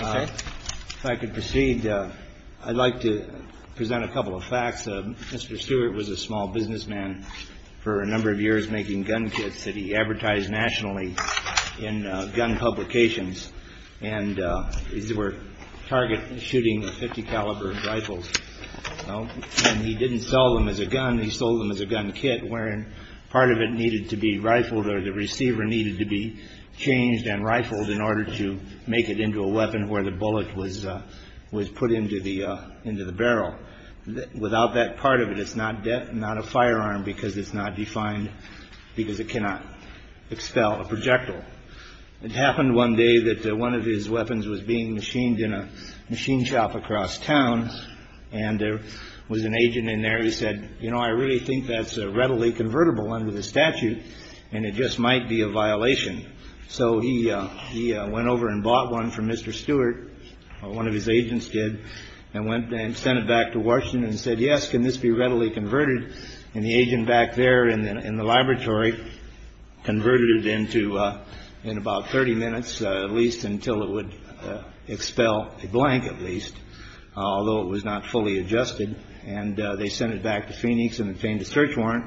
If I could proceed, I'd like to present a couple of facts. Mr. Stewart was a small businessman for a number of years making gun kits that he advertised nationally in gun publications. And these were target shooting 50 caliber rifles. And he didn't sell them as a gun. He sold them as a gun kit, wherein part of it needed to be rifled or the receiver needed to be changed and rifled in order to make it into a weapon where the bullet was put into the barrel. Without that part of it, it's not a firearm because it's not defined because it cannot expel a projectile. It happened one day that one of his weapons was being machined in a machine shop across town. And there was an agent in there who said, you know, I really think that's readily convertible under the statute, and it just might be a violation. So he went over and bought one for Mr. Stewart, one of his agents did, and went and sent it back to Washington and said, yes, can this be readily converted? And the agent back there in the laboratory converted it into in about 30 minutes, at least, until it would expel a blank, at least. Although it was not fully adjusted. And they sent it back to Phoenix and obtained a search warrant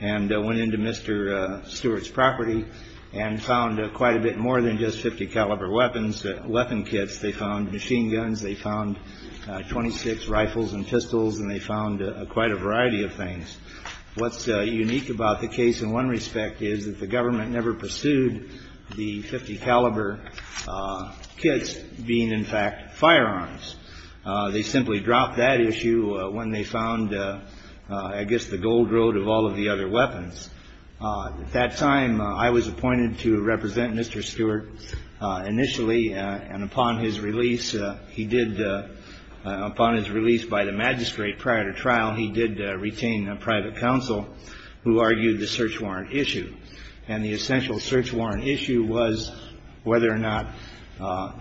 and went into Mr. Stewart's property and found quite a bit more than just 50 caliber weapon kits. They found machine guns. They found 26 rifles and pistols. And they found quite a variety of things. What's unique about the case in one respect is that the government never pursued the 50 caliber kits being, in fact, firearms. They simply dropped that issue when they found, I guess, the gold road of all of the other weapons. At that time, I was appointed to represent Mr. Stewart initially. And upon his release, he did, upon his release by the magistrate prior to trial, he did retain a private counsel who argued the search warrant issue. And the essential search warrant issue was whether or not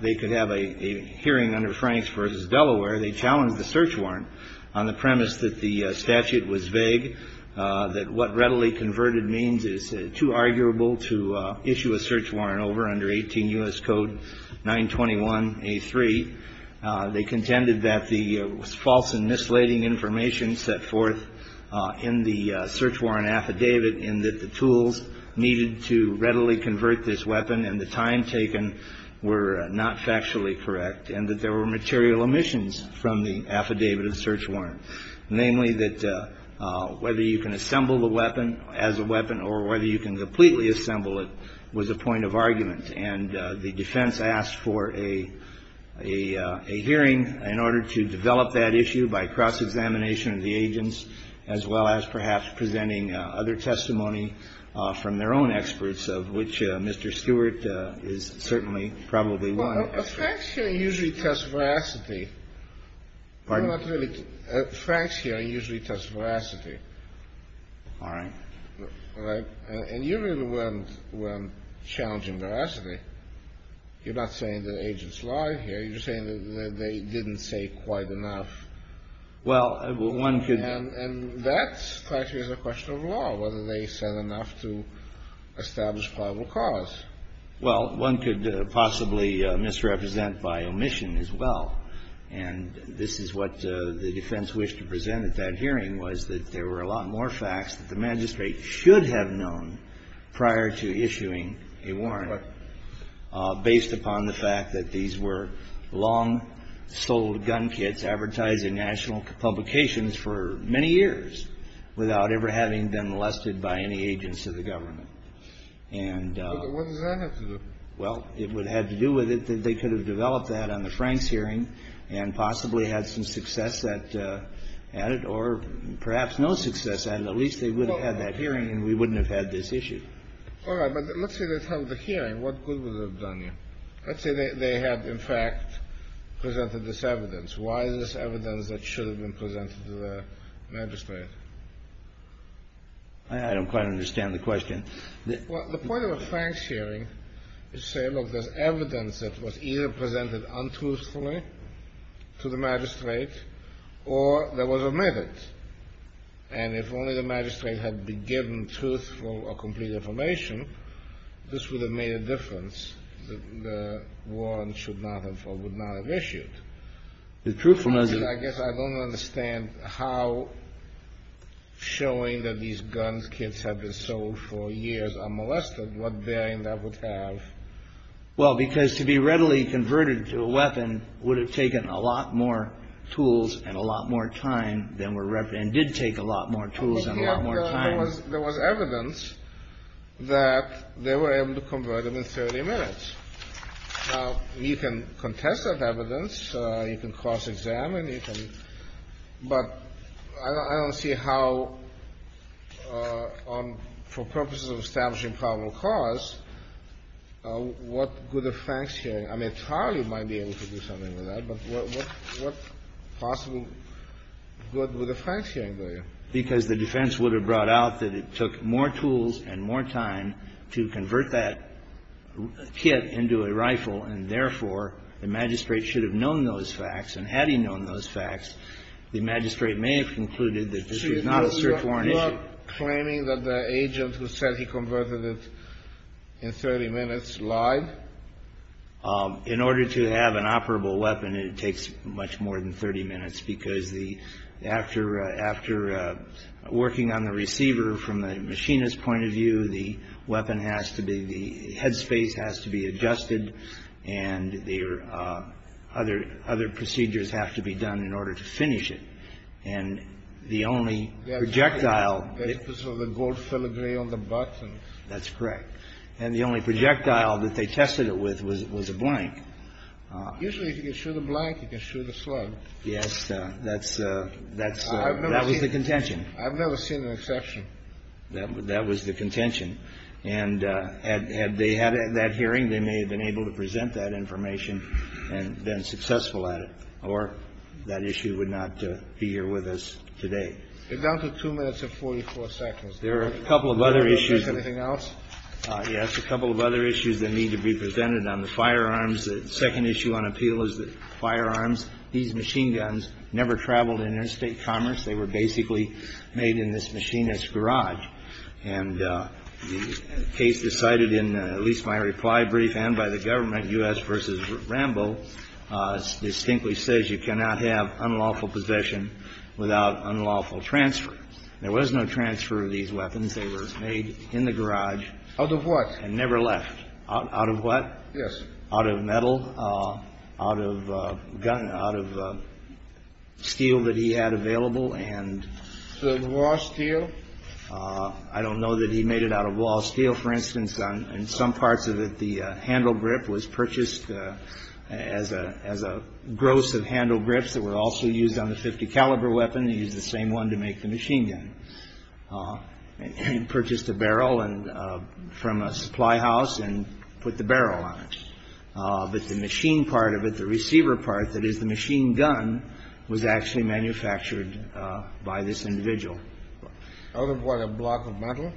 they could have a hearing under Franks v. Delaware. They challenged the search warrant on the premise that the statute was vague, that what readily converted means is too arguable to issue a search warrant over under 18 U.S. Code 921A3. They contended that the false and misleading information set forth in the search warrant affidavit and that the tools needed to readily convert this weapon and the time taken were not factually correct and that there were material omissions from the affidavit and search warrant. Namely, that whether you can assemble the weapon as a weapon or whether you can completely assemble it was a point of argument. And the defense asked for a hearing in order to develop that issue by cross-examination of the agents, as well as perhaps presenting other testimony from their own experts of which Mr. Stewart is certainly probably one. Well, Franks hearings usually test veracity. Franks hearings usually test veracity. And usually when challenging veracity, you're not saying that agents lied here. You're saying that they didn't say quite enough. And that, frankly, is a question of law, whether they said enough to establish probable cause. Well, one could possibly misrepresent by omission as well. And this is what the defense wished to present at that hearing, was that there were a lot more facts that the magistrate should have known prior to issuing a warrant, based upon the fact that these were long-sold gun kits advertised in national publications for many years, without ever having been molested by any agents of the government. What does that have to do with it? Well, it would have had to do with it that they could have developed that on the Franks hearing and possibly had some success at it, or perhaps no success at it. At least they would have had that hearing and we wouldn't have had this issue. All right, but let's say this was a hearing. What good would it have done you? Let's say they had, in fact, presented this evidence. Why is this evidence that should have been presented to the magistrate? I don't quite understand the question. Well, the point of a Franks hearing is to say, look, there's evidence that was either presented untruthfully to the magistrate or that was omitted. And if only the magistrate had been given truthful or complete information, this would have made a difference. The warrant should not have or would not have issued. I guess I don't understand how showing that these gun kits had been sold for years are molested. What bearing that would have? Well, because to be readily converted to a weapon would have taken a lot more tools and a lot more time than were represented and did take a lot more tools and a lot more time. There was evidence that they were able to convert them in 30 minutes. Now, you can contest that evidence. You can cross-examine it. But I don't see how, for purposes of establishing probable cause, what good a Franks hearing I mean, Charlie might be able to do something with that, but what possible good would a Franks hearing do? Because the defense would have brought out that it took more tools and more time to convert that kit into a rifle. And therefore, the magistrate should have known those facts. And had he known those facts, the magistrate may have concluded that this was not a certain warrant issue. So you're not claiming that the agent who said he converted it in 30 minutes lied? In order to have an operable weapon, it takes much more than 30 minutes, because after working on the receiver, from the machinist's point of view, the weapon has to be, the head space has to be adjusted, and other procedures have to be done in order to finish it. And the only projectile... The gold filigree on the button. That's correct. And the only projectile that they tested it with was a blank. Usually, if you can show the blank, you can show the slide. Yes, that was the contention. I've never seen an exception. That was the contention. And had they had that hearing, they may have been able to present that information and been successful at it, or that issue would not be here with us today. It's down to 2 minutes and 44 seconds. There are a couple of other issues. Anything else? Yes, a couple of other issues that need to be presented on the firearms. The second issue on appeal is the firearms. These machine guns never traveled in interstate commerce. They were basically made in this machinist's garage. And the case decided in at least my reply brief and by the government, U.S. v. Rambo, distinctly says you cannot have unlawful possession without unlawful transfer. There was no transfer of these weapons. They were made in the garage. Out of what? And never left. Out of what? Yes. Out of metal. Out of gun. Out of steel that he had available. And... Was it raw steel? I don't know that he made it out of raw steel. For instance, in some parts of it, the handle grip was purchased as a gross of handle grips that were also used on the .50 caliber weapon. He used the same one to make the machine gun. And purchased a barrel from a supply house and put the barrel on it. But the machine part of it, the receiver part, that is the machine gun, was actually manufactured by this individual. Out of what? A block of metal?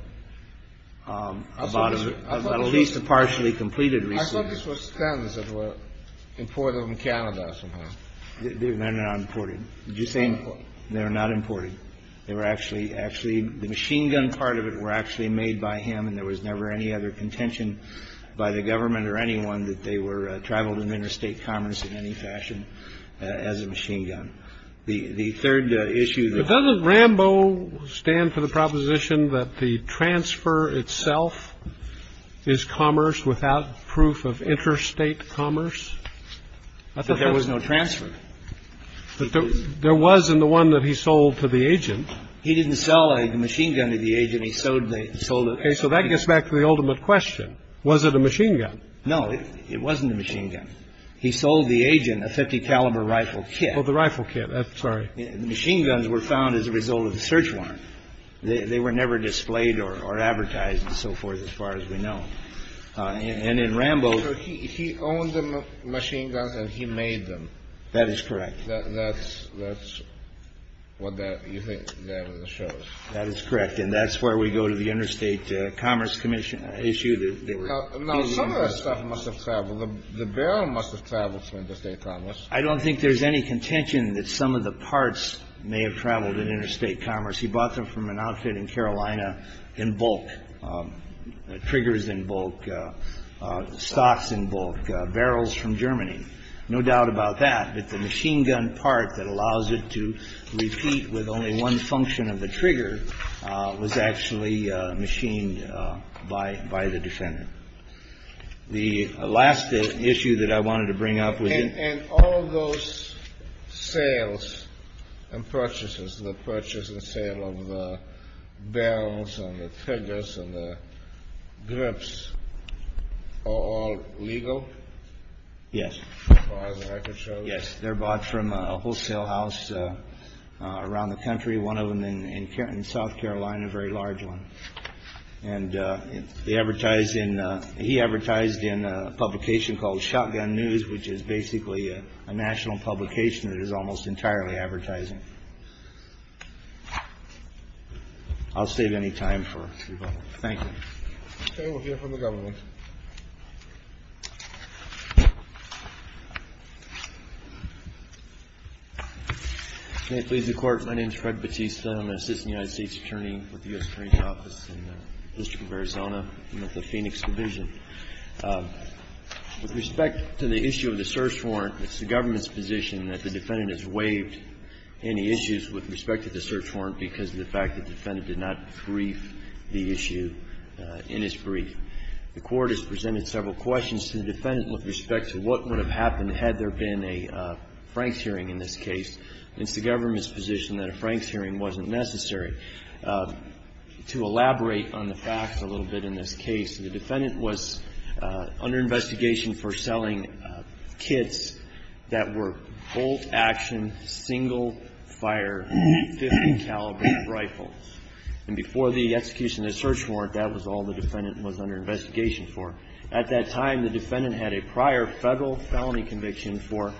About at least a partially completed receiver. I thought this was standards that were imported from Canada or something. They're not imported. Do you think they're not imported? Actually, the machine gun part of it were actually made by him and there was never any other contention by the government or anyone that they were traveled in interstate commerce in any fashion as a machine gun. The third issue that... But doesn't Rambo stand for the proposition that the transfer itself is commerce without proof of interstate commerce? But there was no transfer. But there was in the one that he sold to the agent. He didn't sell a machine gun to the agent. He sold... Okay, so that gets back to the ultimate question. Was it a machine gun? No, it wasn't a machine gun. He sold the agent a .50 caliber rifle kit. Oh, the rifle kit. Sorry. Machine guns were found as a result of search warrants. They were never displayed or advertised and so forth as far as we know. And in Rambo... That is correct. That's what that shows. That is correct. And that's where we go to the interstate commerce issue. Now, some of that stuff must have traveled. The barrel must have traveled from interstate commerce. I don't think there's any contention that some of the parts may have traveled in interstate commerce. He bought them from an outfit in Carolina in bulk. Triggers in bulk. Stocks in bulk. Barrels from Germany. No doubt about that, that the machine gun part that allows it to repeat with only one function of the trigger was actually machined by the defendant. The last issue that I wanted to bring up was... And all those sales and purchases, the purchase and sale of barrels and the triggers and the grips, are all legal? Yes. As the record shows? Yes. They're bought from a wholesale house around the country, one of them in South Carolina, a very large one. And he advertised in a publication called Shotgun News, which is basically a national publication that is almost entirely advertising. I'll save any time for people. Thank you. Okay, we'll hear from the government. May it please the Court. My name is Fred Batista. I'm an Assistant United States Attorney for the U.S. Attorney's Office in the District of Arizona, with the Phoenix Division. With respect to the issue of the search warrant, it's the government's position that the defendant has waived any issues with respect to the search warrant because of the fact that the defendant did not brief the issue in its brief. The Court has presented several questions to the defendant with respect to what would have happened had there been a Franks hearing in this case. It's the government's position that a Franks hearing wasn't necessary. To elaborate on the fact a little bit in this case, the defendant was under investigation for selling kits that were full-action, single-fire, 50-caliber rifles. And before the execution of the search warrant, that was all the defendant was under investigation for. At that time, the defendant had a prior federal felony conviction for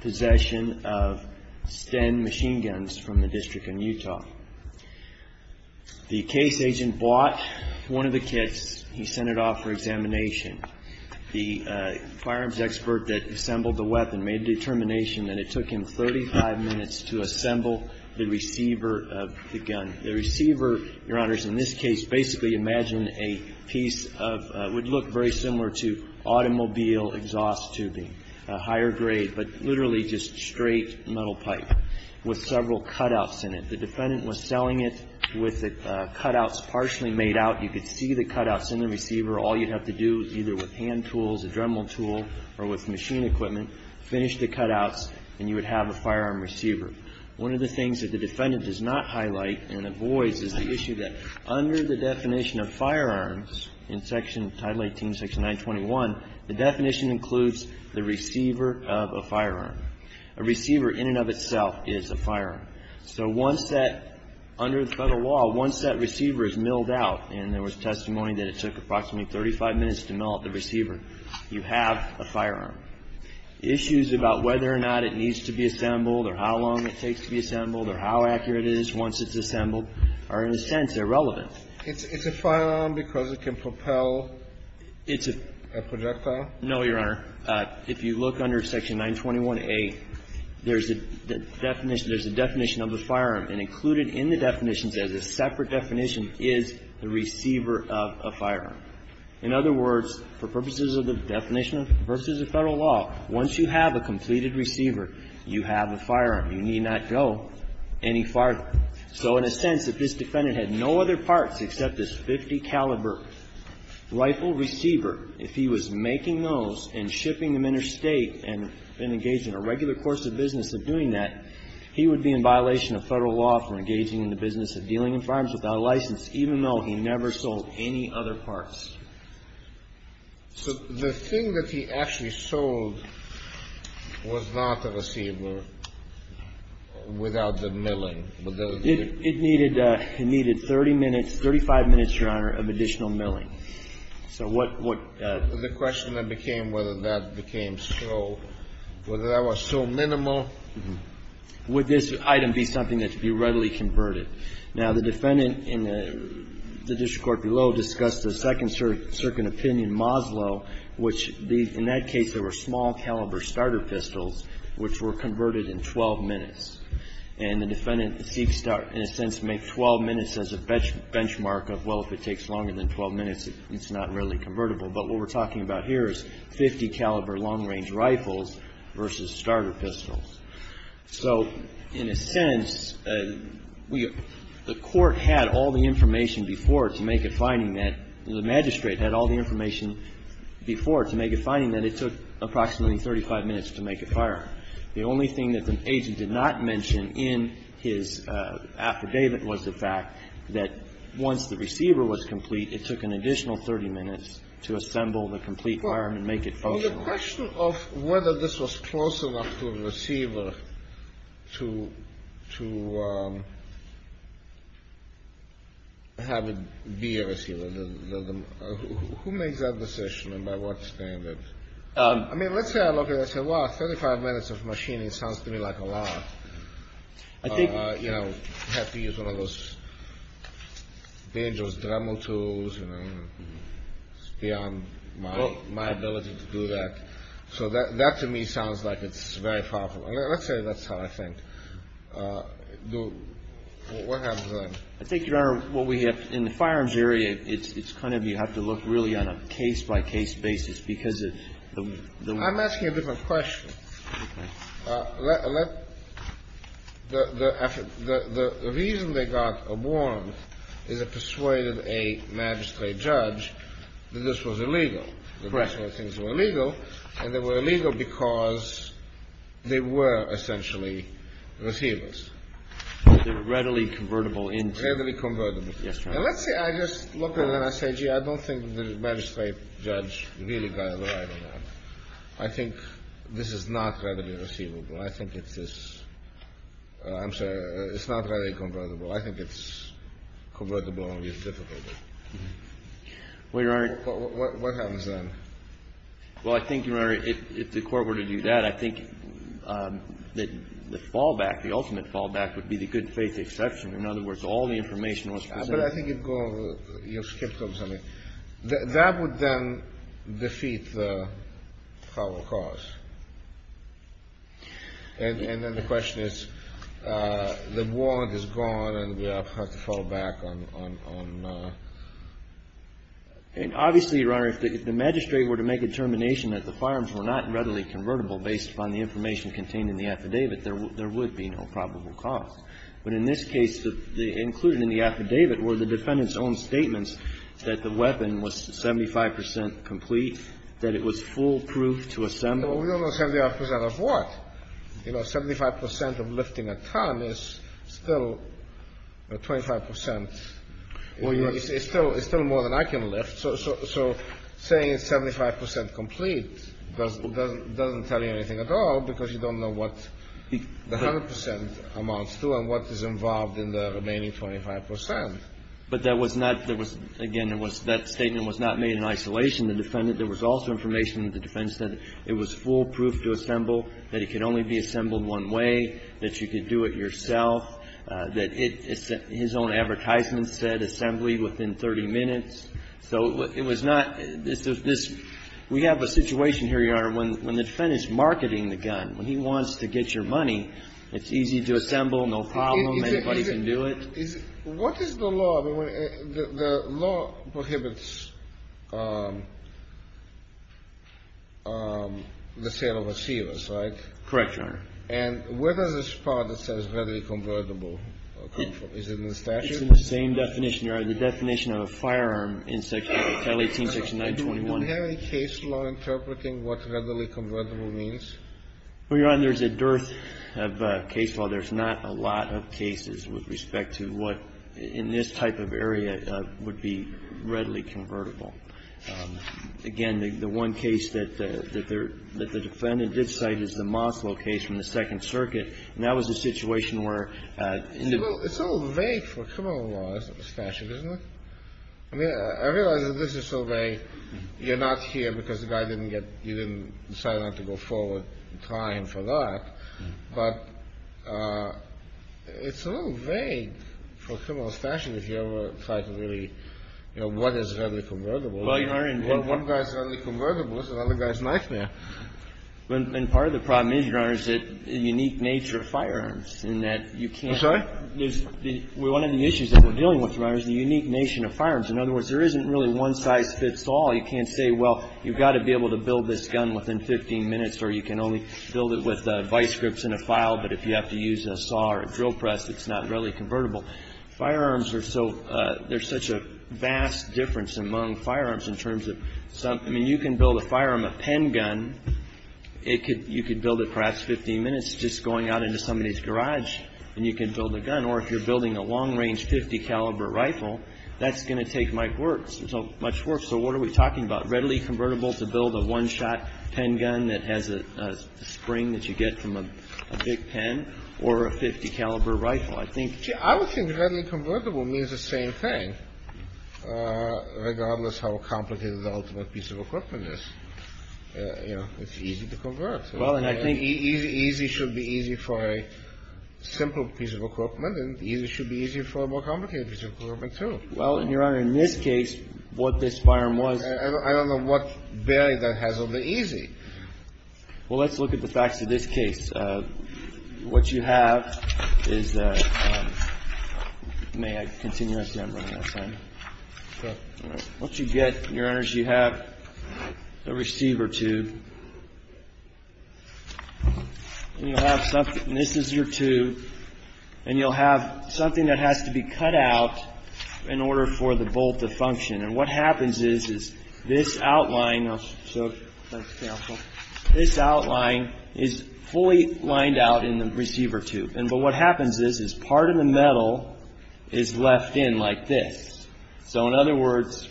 possession of 10 machine guns from the District in Utah. The case agent bought one of the kits. He sent it off for examination. The firearms expert that assembled the weapon made a determination that it took him 35 minutes to assemble the receiver of the gun. The receiver, Your Honors, in this case basically imagined a piece of what would look very similar to automobile exhaust tubing, a higher grade, but literally just straight metal pipe with several cutouts in it. The defendant was selling it with the cutouts partially made out. You could see the cutouts in the receiver. All you'd have to do is either with hand tools, a dremel tool, or with machine equipment, finish the cutouts, and you would have a firearm receiver. One of the things that the defendant does not highlight and avoids is the issue that under the definition of firearms in section Title 18, Section 921, the definition includes the receiver of a firearm. A receiver in and of itself is a firearm. So once that, under the federal law, once that receiver is milled out and there was testimony that it took approximately 35 minutes to mill out the receiver, you have a firearm. Issues about whether or not it needs to be assembled or how long it takes to be assembled or how accurate it is once it's assembled are, in a sense, irrelevant. It's a firearm because it can propel a projectile? No, Your Honor. If you look under Section 921A, there's a definition of a firearm, and included in the definition is a separate definition is the receiver of a firearm. In other words, for purposes of the definition versus the federal law, once you have a completed receiver, you have a firearm. You need not go any farther. So in a sense, if this defendant had no other parts except this .50 caliber rifle receiver, if he was making those and shipping them interstate and engaged in a regular course of business of doing that, he would be in violation of federal law for engaging in the business of dealing in firearms without a license, even though he never sold any other parts. So the thing that he actually sold was not the receiver without the milling. It needed 30 minutes, 35 minutes, Your Honor, of additional milling. The question then became whether that was so minimal. Would this item be something that could be readily converted? Now, the defendant in the district court below discussed the second-circuit opinion, Moslow, which in that case there were small-caliber starter pistols which were converted in 12 minutes. And the defendant seeks to, in a sense, make 12 minutes as a benchmark of, well, if it takes longer than 12 minutes, it's not really convertible. But what we're talking about here is .50 caliber long-range rifles versus starter pistols. So in a sense, the court had all the information before to make a finding that, the magistrate had all the information before to make a finding that it took approximately 35 minutes to make a firearm. The only thing that the agent did not mention in his affidavit was the fact that once the receiver was complete, it took an additional 30 minutes to assemble the complete firearm and make it functional. The question of whether this was close enough to a receiver to have it be a receiver, who makes that decision and by what standards? I mean, let's say I look at it and say, well, 35 minutes of machining sounds to me like a lot. You know, you have to use one of those dangerous dremel tools. It's beyond my ability to do that. So that to me sounds like it's very far from it. Let's say that's how I think. What happens then? I think, Your Honor, what we have in the firearms area, it's kind of you have to look really on a case-by-case basis. I'm asking a different question. The reason they got a warrant is it persuaded a magistrate judge that this was illegal. And they were illegal because they were essentially receivers. They were readily convertible. And let's say I just look at it and I say, gee, I don't think the magistrate judge really got it right. I think this is not readily receivable. I think it's this. I'm sorry. It's not readily convertible. I think it's convertible and used difficultly. What happens then? Well, I think, Your Honor, if the court were to do that, I think the fallback, the ultimate fallback would be the good faith exception. In other words, all the information was presented. But I think you've skipped something. That would then defeat the probable cause. And then the question is the warrant is gone and we have to fall back on... Obviously, Your Honor, if the magistrate were to make a determination that the firearms were not readily convertible based upon the information contained in the affidavit, there would be no probable cause. But in this case, included in the affidavit were the defendant's own statements that the weapon was 75% complete, that it was foolproof to assemble. 75% of what? You know, 75% of lifting a ton is still 25%. It's still more than I can lift. So saying it's 75% complete doesn't tell you anything at all because you don't know what the 100% amounts to and what is involved in the remaining 25%. But that statement was not made in isolation. There was also information that the defendant said it was foolproof to assemble, that it can only be assembled one way, that you could do it yourself, that his own advertisement said assembly within 30 minutes. So it was not... We have a situation here, Your Honor, when the defendant is marketing the gun. When he wants to get your money, it's easy to assemble, no problem, anybody can do it. What is the law? The law prohibits the sale of a seal, is that right? Correct, Your Honor. And whether this part that says readily convertible is in the statute? It's in the same definition, Your Honor, the definition of a firearm in section 186921. Do we have any case law interpreting what readily convertible means? Well, Your Honor, there's a dearth of case law. There's not a lot of cases with respect to what in this type of area would be readily convertible. Again, the one case that the defendant did cite is the Moscow case from the Second Circuit, and that was a situation where... It's a little vague for a criminal law statute, isn't it? I realize that this is so vague. You're not here because the guy didn't get... You didn't decide not to go forward in time for that, but it's a little vague for a criminal statute if you ever try to really... You know, what is readily convertible? One guy's readily convertible, so the other guy's not there. And part of the problem is, Your Honor, is the unique nature of firearms in that you can't... I'm sorry? One of the issues that we're dealing with, Your Honor, is the unique nature of firearms. In other words, there isn't really one size fits all. You can't say, well, you've got to be able to build this gun within 15 minutes or you can only build it with vice grips and a file, but if you have to use a saw or a drill press, it's not readily convertible. Firearms are so... There's such a vast difference among firearms in terms of... I mean, you can build a firearm, a pen gun. You could build it in perhaps 15 minutes just going out into somebody's garage, and you can build a gun. Or if you're building a long-range .50 caliber rifle, that's going to take much work. So much work. So what are we talking about? Readily convertible to build a one-shot pen gun that has a spring that you get from a big pen or a .50 caliber rifle? I think... I would think readily convertible means the same thing, regardless of how complicated the ultimate piece of equipment is. It's easy to convert. Well, and I think easy should be easy for a simple piece of equipment, and easy should be easy for a more complicated piece of equipment, too. Well, Your Honor, in this case, what this firearm was... I don't know what bearing that has on the easy. Well, let's look at the facts of this case. What you have is a... May I continue? Yes, Your Honor. Okay. Once you get... Your Honor, so you have a receiver tube. And you'll have something... This is your tube, and you'll have something that has to be cut out in order for the bolt to function. And what happens is, is this outline... So let's sample. This outline is fully lined out in the receiver tube. But what happens is, is part of the metal is left in like this. So, in other words,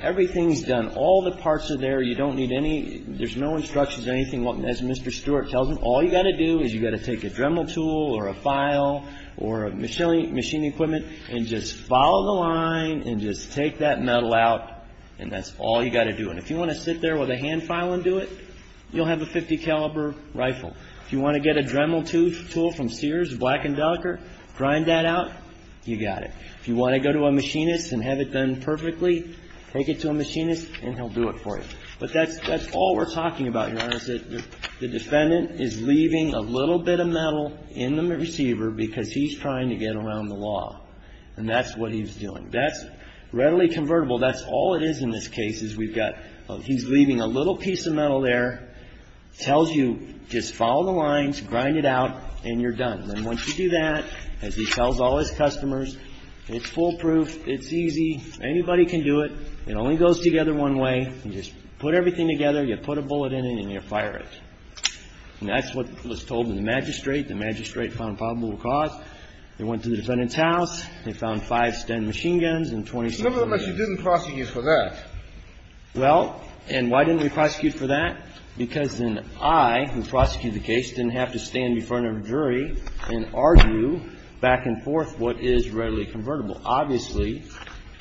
everything is done. All the parts are there. You don't need any... There's no instructions or anything, as Mr. Stewart tells them. All you've got to do is you've got to take a Dremel tool or a file or machine equipment and just follow the line and just take that metal out, and that's all you've got to do. And if you want to sit there with a hand file and do it, you'll have a .50 caliber rifle. If you want to get a Dremel tool from Sears, black and darker, grind that out, you've got it. If you want to go to a machinist and have it done perfectly, take it to a machinist and he'll do it for you. But that's all we're talking about, Your Honor, is that the defendant is leaving a little bit of metal in the receiver because he's trying to get around the law. And that's what he's doing. That's readily convertible. That's all it is in this case is we've got... He's leaving a little piece of metal there. Tells you just follow the lines, grind it out, and you're done. And once you do that, as he tells all his customers, it's foolproof, it's easy, anybody can do it. It only goes together one way. You just put everything together. You put a bullet in it and you fire it. And that's what was told to the magistrate. The magistrate found probable cause. They went to the defendant's house. They found five Sten machine guns and 26... No, but she didn't prosecute for that. Well, and why didn't we prosecute for that? Because then I, who prosecuted the case, didn't have to stand in front of a jury and argue back and forth what is readily convertible. Obviously,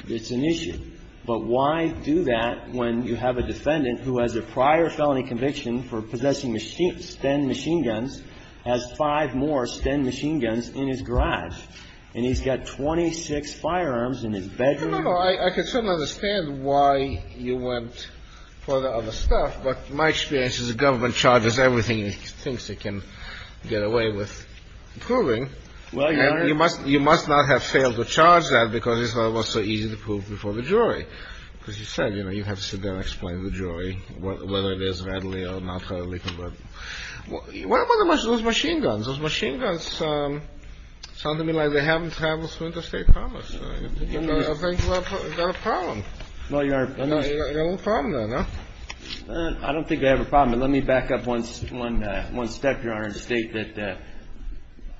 it's an issue. But why do that when you have a defendant who has a prior felony conviction for possessing Sten machine guns, has five more Sten machine guns in his garage, and he's got 26 firearms in his bedroom. I could certainly understand why you went for the other stuff, but my experience is the government charges everything it thinks it can get away with proving. You must not have failed to charge that because it's not so easy to prove before the jury. As you said, you have to sit there and explain to the jury whether it is readily or not readily convertible. What about those machine guns? Those machine guns sound to me like they haven't traveled through interstate commerce. I think you have a problem. You have a problem, don't you? I don't think I have a problem, but let me back up one step, Your Honor, and state that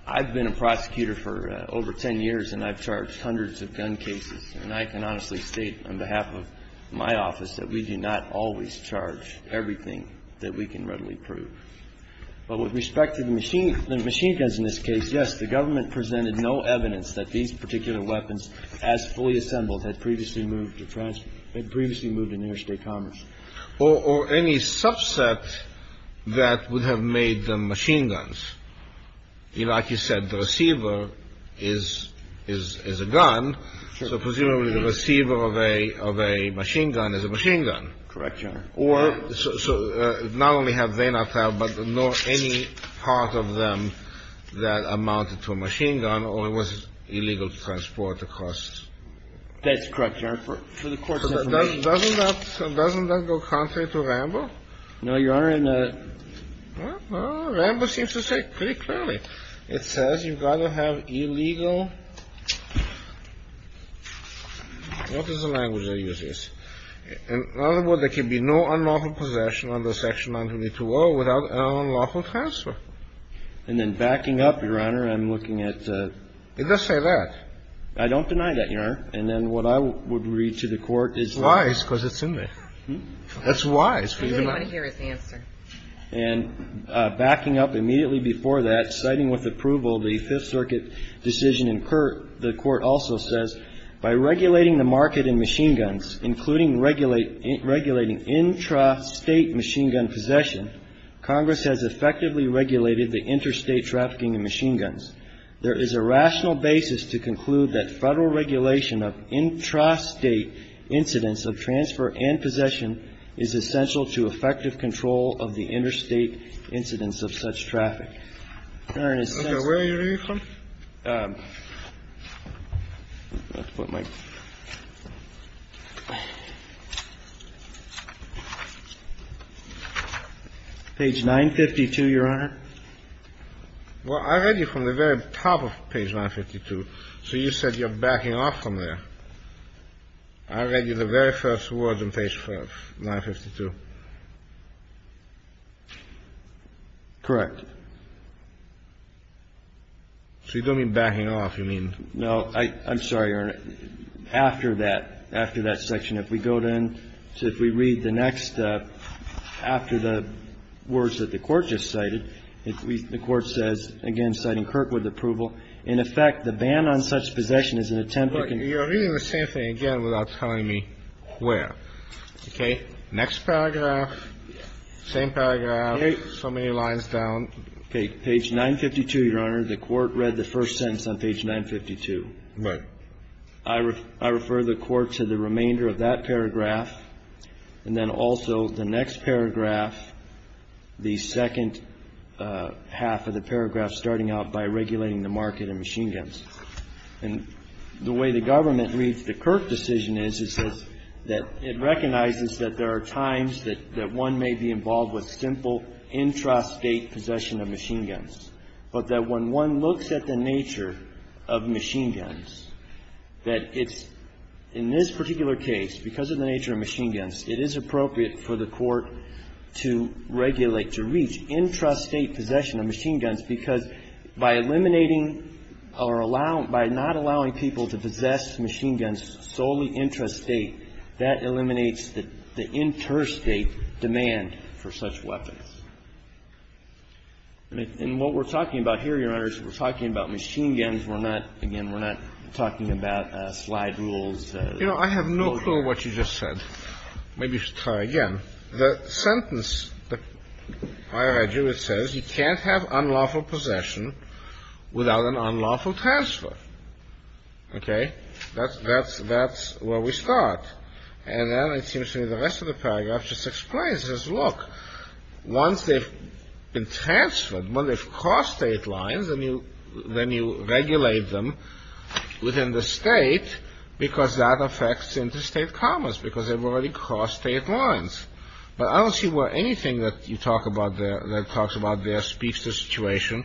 I've been a prosecutor for over 10 years and I've charged hundreds of gun cases, and I can honestly state on behalf of my office that we do not always charge everything that we can readily prove. But with respect to the machine guns in this case, yes, the government presented no evidence that these particular weapons, as fully assembled, had previously moved in interstate commerce. Or any subset that would have made them machine guns. Like you said, the receiver is a gun, so presumably the receiver of a machine gun is a machine gun. Correct, Your Honor. So not only have they not traveled, but any part of them that amounted to a machine gun was illegal to transport across. That's correct, Your Honor. Doesn't that go contrary to Rambo? No, Your Honor. Rambo seems to say it pretty clearly. It says you've got to have illegal... What is the language they use? In other words, there can be no unlawful possession under Section 192.0 without an unlawful transfer. And then backing up, Your Honor, I'm looking at... It does say that. I don't deny that, Your Honor. And then what I would read to the Court is... Wise, because it's in there. That's wise. I hear its answer. And backing up immediately before that, citing with approval the Fifth Circuit decision in Pert, the Court also says, by regulating the market in machine guns, including regulating intrastate machine gun possession, Congress has effectively regulated the interstate trafficking in machine guns. There is a rational basis to conclude that federal regulation of intrastate incidents of transfer and possession is essential to effective control of the interstate incidents of such traffic. Where are you reading from? Page 952, Your Honor. Well, I read you from the very top of page 952, so you said you're backing off from there. I read you the very first words on page 952. Correct. So you don't mean backing off, you mean... No, I'm sorry, Your Honor. After that, after that section, if we go then to, if we read the next, after the words that the Court just cited, the Court says, again, citing Kirkwood's approval, in effect, the ban on such possession is an attempt to... Look, you're reading the same thing again without telling me where. Okay? Okay. Next paragraph, same paragraph, so many lines down. Okay, page 952, Your Honor. The Court read the first sentence on page 952. Right. I refer the Court to the remainder of that paragraph, and then also the next paragraph, the second half of the paragraph starting off by regulating the market of machine guns. And the way the Government reads the Kirk decision is, it says that it recognizes that there are times that one may be involved with simple intrastate possession of machine guns, but that when one looks at the nature of machine guns, that it's, in this particular case, because of the nature of machine guns, it is appropriate for the Court to regulate, to reach intrastate possession of machine guns, because by eliminating or allowing, by not allowing people to possess machine guns solely intrastate, that eliminates the interstate demand for such weapons. And what we're talking about here, Your Honor, is we're talking about machine guns. We're not, again, we're not talking about slide rules. You know, I have no clue what you just said. Maybe you should try again. The sentence, I read you, it says, you can't have unlawful possession without an unlawful transfer. Okay? That's where we start. And then it seems to me the rest of the paragraph just explains this. Look, once they've been transferred, when they've crossed state lines, then you regulate them within the state, because that affects the interstate commerce, because they've already crossed state lines. But I don't see where anything that you talk about there, that talks about there, speaks to the situation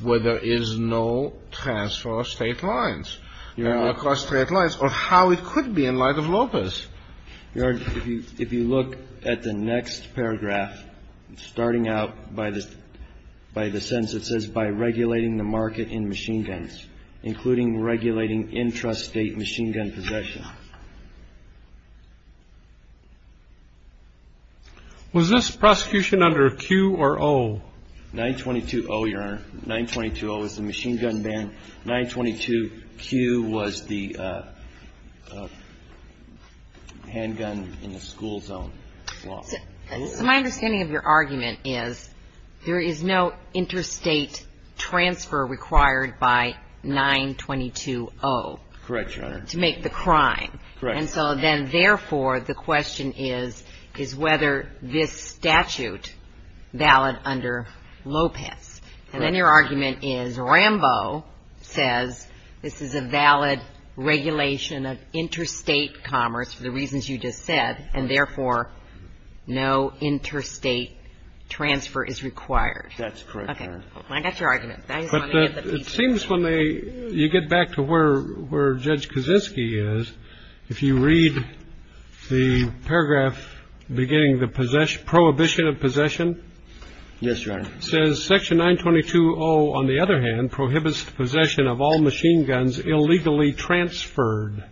where there is no transfer of state lines. They've already crossed state lines. Or how it could be in light of Lopez. Your Honor, if you look at the next paragraph, starting out by the sentence that says, by regulating the market in machine guns, including regulating intrastate machine gun possession. Was this prosecution under Q or O? 922-0, Your Honor. 922-0 is the machine gun ban. 922-Q was the handgun in the school zone. My understanding of your argument is, there is no interstate transfer required by 922-0. Correct, Your Honor. To make the crime. Correct. And so then, therefore, the question is, is whether this statute valid under Lopez. Correct. And then your argument is Rambo says, this is a valid regulation of interstate commerce, for the reasons you just said, and therefore, no interstate transfer is required. That's correct, Your Honor. I got your argument. It seems when you get back to where Judge Kaczynski is, if you read the paragraph beginning the prohibition of possession. Yes, Your Honor. It says section 922-0, on the other hand, prohibits possession of all machine guns illegally transferred.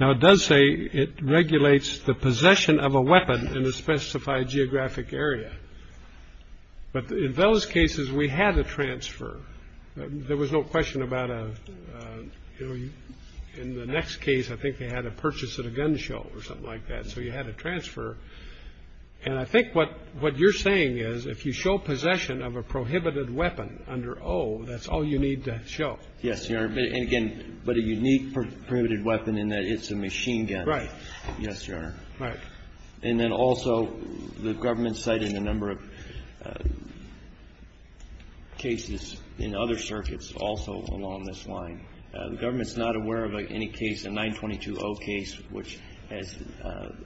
Now, it does say it regulates the possession of a weapon in a specified geographic area. But in those cases, we had a transfer. There was no question about a, in the next case, I think they had a purchase of a gun show or something like that. So you had a transfer. And I think what you're saying is, if you show possession of a prohibited weapon under 0, that's all you need to show. Yes, Your Honor. And again, but a unique prohibited weapon in that it's a machine gun. Right. Yes, Your Honor. Right. And then also, the government cited a number of cases in other circuits also along this line. The government's not aware of any case, the 922-0 case, which has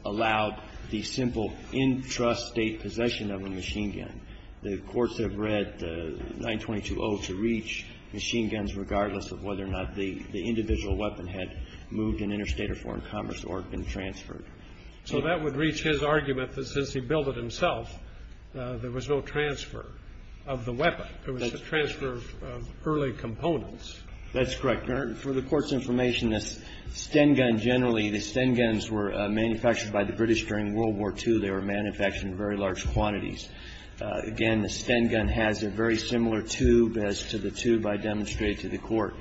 allowed the simple intrastate possession of a machine gun. The courts have read the 922-0 to reach machine guns regardless of whether or not the individual weapon had moved in interstate or foreign commerce or been transferred. So that would reach his argument that since he built it himself, there was no transfer of the weapon. There was a transfer of early components. That's correct. For the court's information, the Sten gun generally, the Sten guns were manufactured by the British during World War II. They were manufactured in very large quantities. Again, the Sten gun has a very similar tube as to the tube I demonstrated to the court.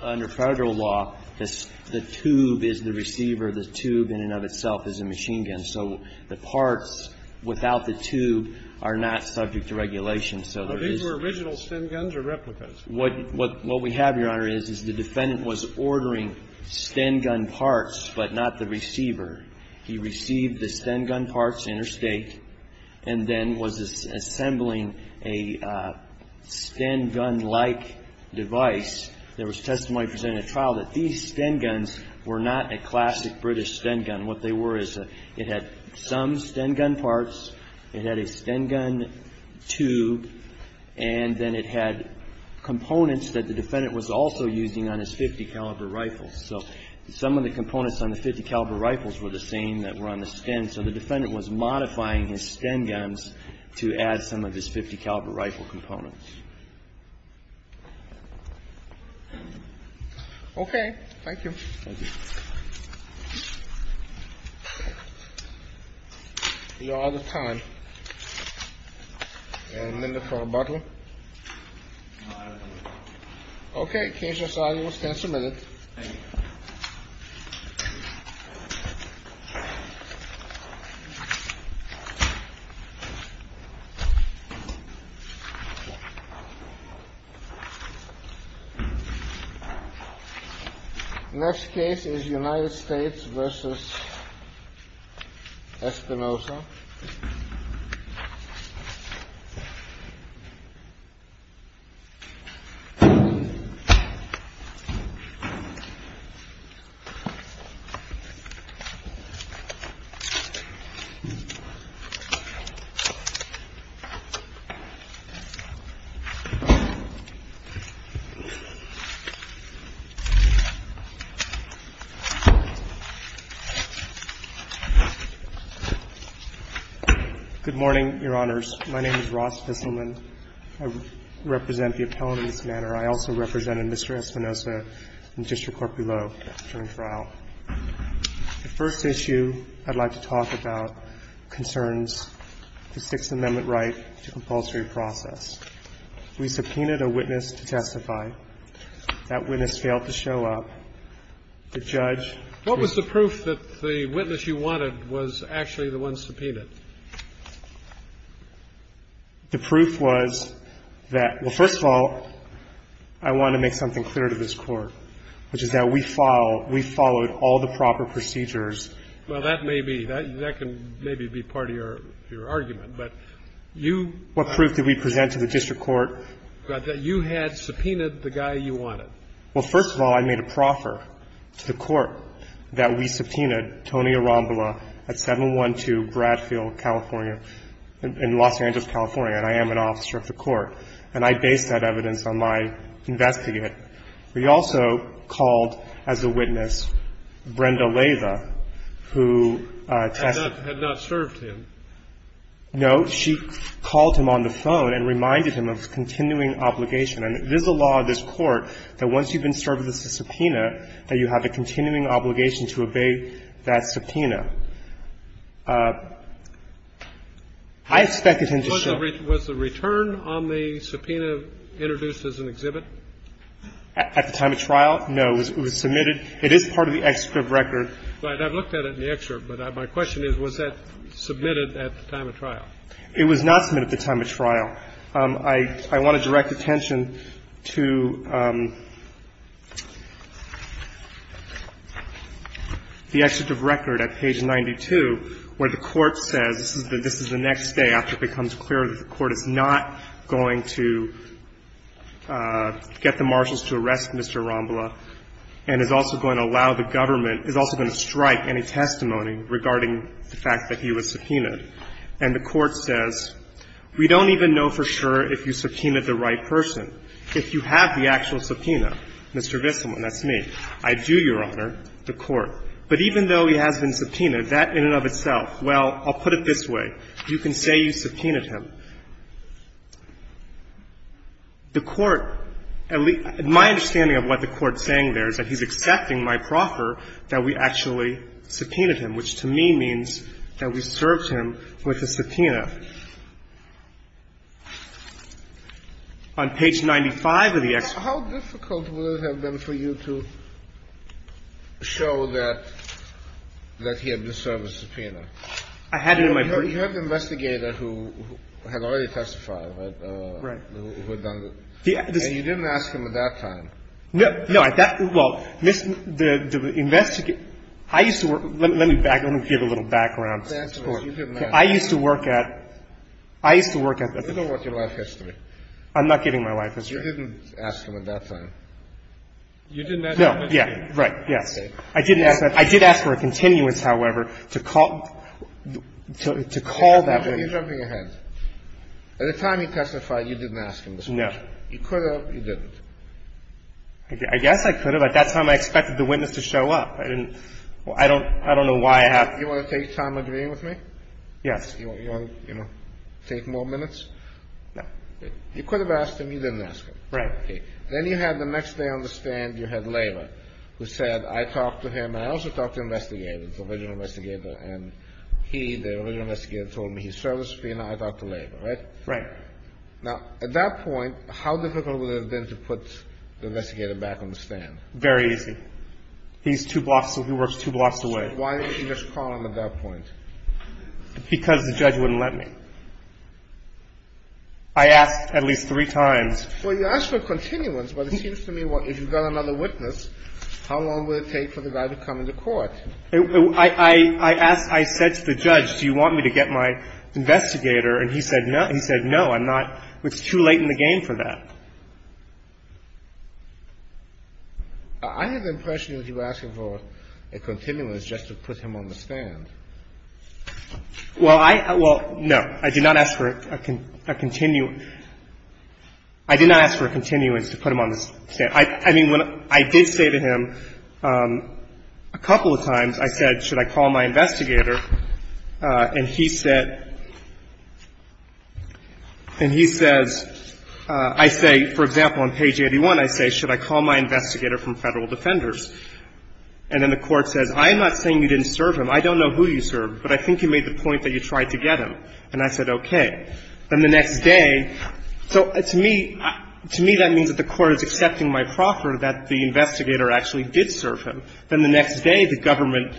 Under federal law, the tube is the receiver. The tube in and of itself is a machine gun. So the parts without the tube are not subject to regulation. So these were original Sten guns or replicas? What we have, Your Honor, is the defendant was ordering Sten gun parts but not the receiver. He received the Sten gun parts interstate and then was assembling a Sten gun-like device. There was testimony presented at trial that these Sten guns were not a classic British Sten gun. What they were is it had some Sten gun parts, it had a Sten gun tube, and then it had components that the defendant was also using on his .50 caliber rifle. So some of the components on the .50 caliber rifles were the same that were on the Sten. So the defendant was modifying his Sten guns to add some of his .50 caliber rifle components. Okay, thank you. Thank you. You're out of time. You have a minute for rebuttal? No, I don't think so. Okay, the case is audience can submit it. Thank you. Next case is United States v. Espinosa. You're out of time. Good morning, Your Honors. My name is Ross Disselman. I represent the appellant in this matter. I also represented Mr. Espinosa in District Court below during the trial. The first issue I'd like to talk about concerns the Sixth Amendment right to compulsory process. We subpoenaed a witness to testify. That witness failed to show up. The judge...... The proof was that, well, first of all, I want to make something clear to this court, which is that we followed all the proper procedures. Well, that may be, that can maybe be part of your argument. But you... What proof could we present to the District Court? That you had subpoenaed the guy you wanted. Well, first of all, I made a proffer to the court that we subpoenaed Tony Espinosa. I'm based in Nashville, California, in Los Angeles, California. And I am an officer of the court. And I based that evidence on my investigate. We also called as a witness Brenda Leyva, who... Had not served him. No. She called him on the phone and reminded him of the continuing obligation. And it is the law of this court that once you've been served with a subpoena, that you have a continuing obligation to obey that subpoena. I expected him to... Was the return on the subpoena introduced as an exhibit? At the time of trial? No. It was submitted. It is part of the excerpt record. Right. I've looked at it in the excerpt. But my question is, was that submitted at the time of trial? It was not submitted at the time of trial. I want to direct attention to... The excerpt of record at page 92, where the court says... This is the next day after it becomes clear that the court is not going to... Get the marshals to arrest Mr. Rambla. And is also going to allow the government... Is also going to strike any testimony regarding the fact that he was subpoenaed. And the court says... We don't even know for sure if you subpoenaed the right person. If you have the actual subpoena. Mr. Vissiman, that's me. I do, Your Honor. The court. But even though he has been subpoenaed, that in and of itself... Well, I'll put it this way. You can say you subpoenaed him. The court... My understanding of what the court is saying there is that he's expecting my proffer that we actually subpoenaed him. Which to me means that we served him with a subpoena. On page 95 of the... How difficult would it have been for you to show that he had deserved a subpoena? I had it in my... You had an investigator who had already testified. Right. And you didn't ask him at that time. No, at that... Well, the investigator... I used to work... Let me give a little background. Of course. I used to work at... I used to work at... I don't know what your life history is. I'm not giving my life history. You didn't ask him at that time. You didn't ask him? No. Yeah. Right. Yeah. Okay. I did ask for a continuance, however, to call that... You're jumping ahead. At the time you testified, you didn't ask him. No. You could have. You didn't. I guess I could have. At that time, I expected the witness to show up. I didn't... I don't know why I... You want to take time agreeing with me? Yes. You want to take more minutes? No. You could have asked him. You didn't ask him. Right. Okay. Then you have the next day on the stand, you had Leyva, who said, I talked to him and I also talked to the investigator, the original investigator, and he, the original investigator, told me he serviced me and I talked to Leyva. Right? Right. Now, at that point, how difficult would it have been to put the investigator back on the stand? Very easy. He's two blocks... He works two blocks away. Why didn't you just call him at that point? Because the judge wouldn't let me. I asked at least three times. Well, you asked for a continuance, but it seems to me if you've got another witness, how long would it take for the guy to come into court? I asked... I said to the judge, do you want me to get my investigator? And he said no. He said no. I'm not... It's too late in the game for that. I have the impression that you were asking for a continuance just to put him on the stand. Well, I... Well, no. I did not ask for a continuance. I did not ask for a continuance to put him on the stand. I mean, I did say to him a couple of times, I said, should I call my investigator? And he said... And he says... I say, for example, on page 81, I say, should I call my investigator from Federal Defenders? And then the court says, I'm not saying you didn't serve him. I don't know who you served, but I think you made the point that you tried to get him. And I said, okay. Then the next day... So, to me, that means that the court is accepting my proffer that the investigator actually did serve him. Then the next day, the government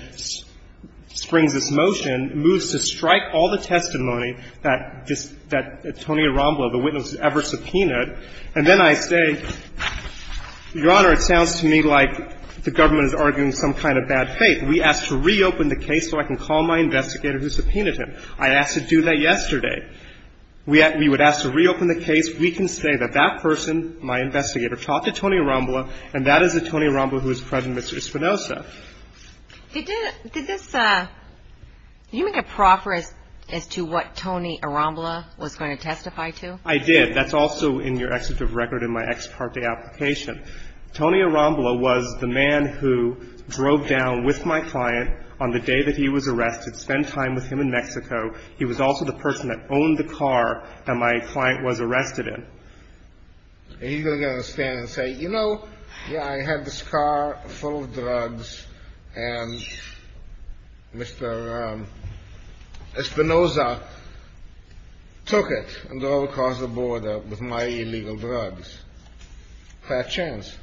springs this motion, moves to strike all the testimony that Tony Arambola, the witness, ever subpoenaed. And then I say, Your Honor, it sounds to me like the government is arguing some kind of bad faith. We asked to reopen the case so I can call my investigator who subpoenaed him. I asked to do that yesterday. We would ask to reopen the case. We can say that that person, my investigator, talked to Tony Arambola, and that is the Tony Arambola who was threatened with espionage. Did this... Did you make a proffer as to what Tony Arambola was going to testify to? I did. That's also in your executive record in my ex parte application. Tony Arambola was the man who drove down with my client on the day that he was arrested, spent time with him in Mexico. He was also the person that owned the car that my client was arrested in. And he's going to stand and say, You know, I had this car full of drugs, and Mr. Espinoza took it and drove across the border with my illegal drugs. Bad chance.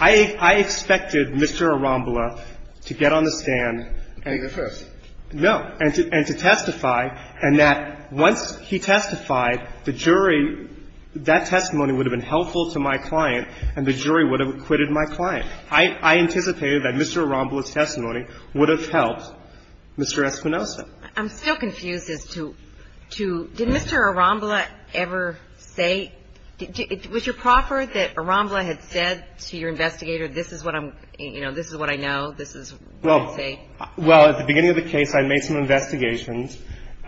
I expected Mr. Arambola to get on the stand and... And confess. No. And to testify, and that once he testified, the jury... That testimony would have been helpful to my client, and the jury would have acquitted my client. I anticipated that Mr. Arambola's testimony would have helped Mr. Espinoza. I'm still confused as to... Did Mr. Arambola ever say... Was your proffer that Arambola had said to your investigator, This is what I'm... You know, This is what I know. This is what they say. Well, at the beginning of the case, I made some investigations.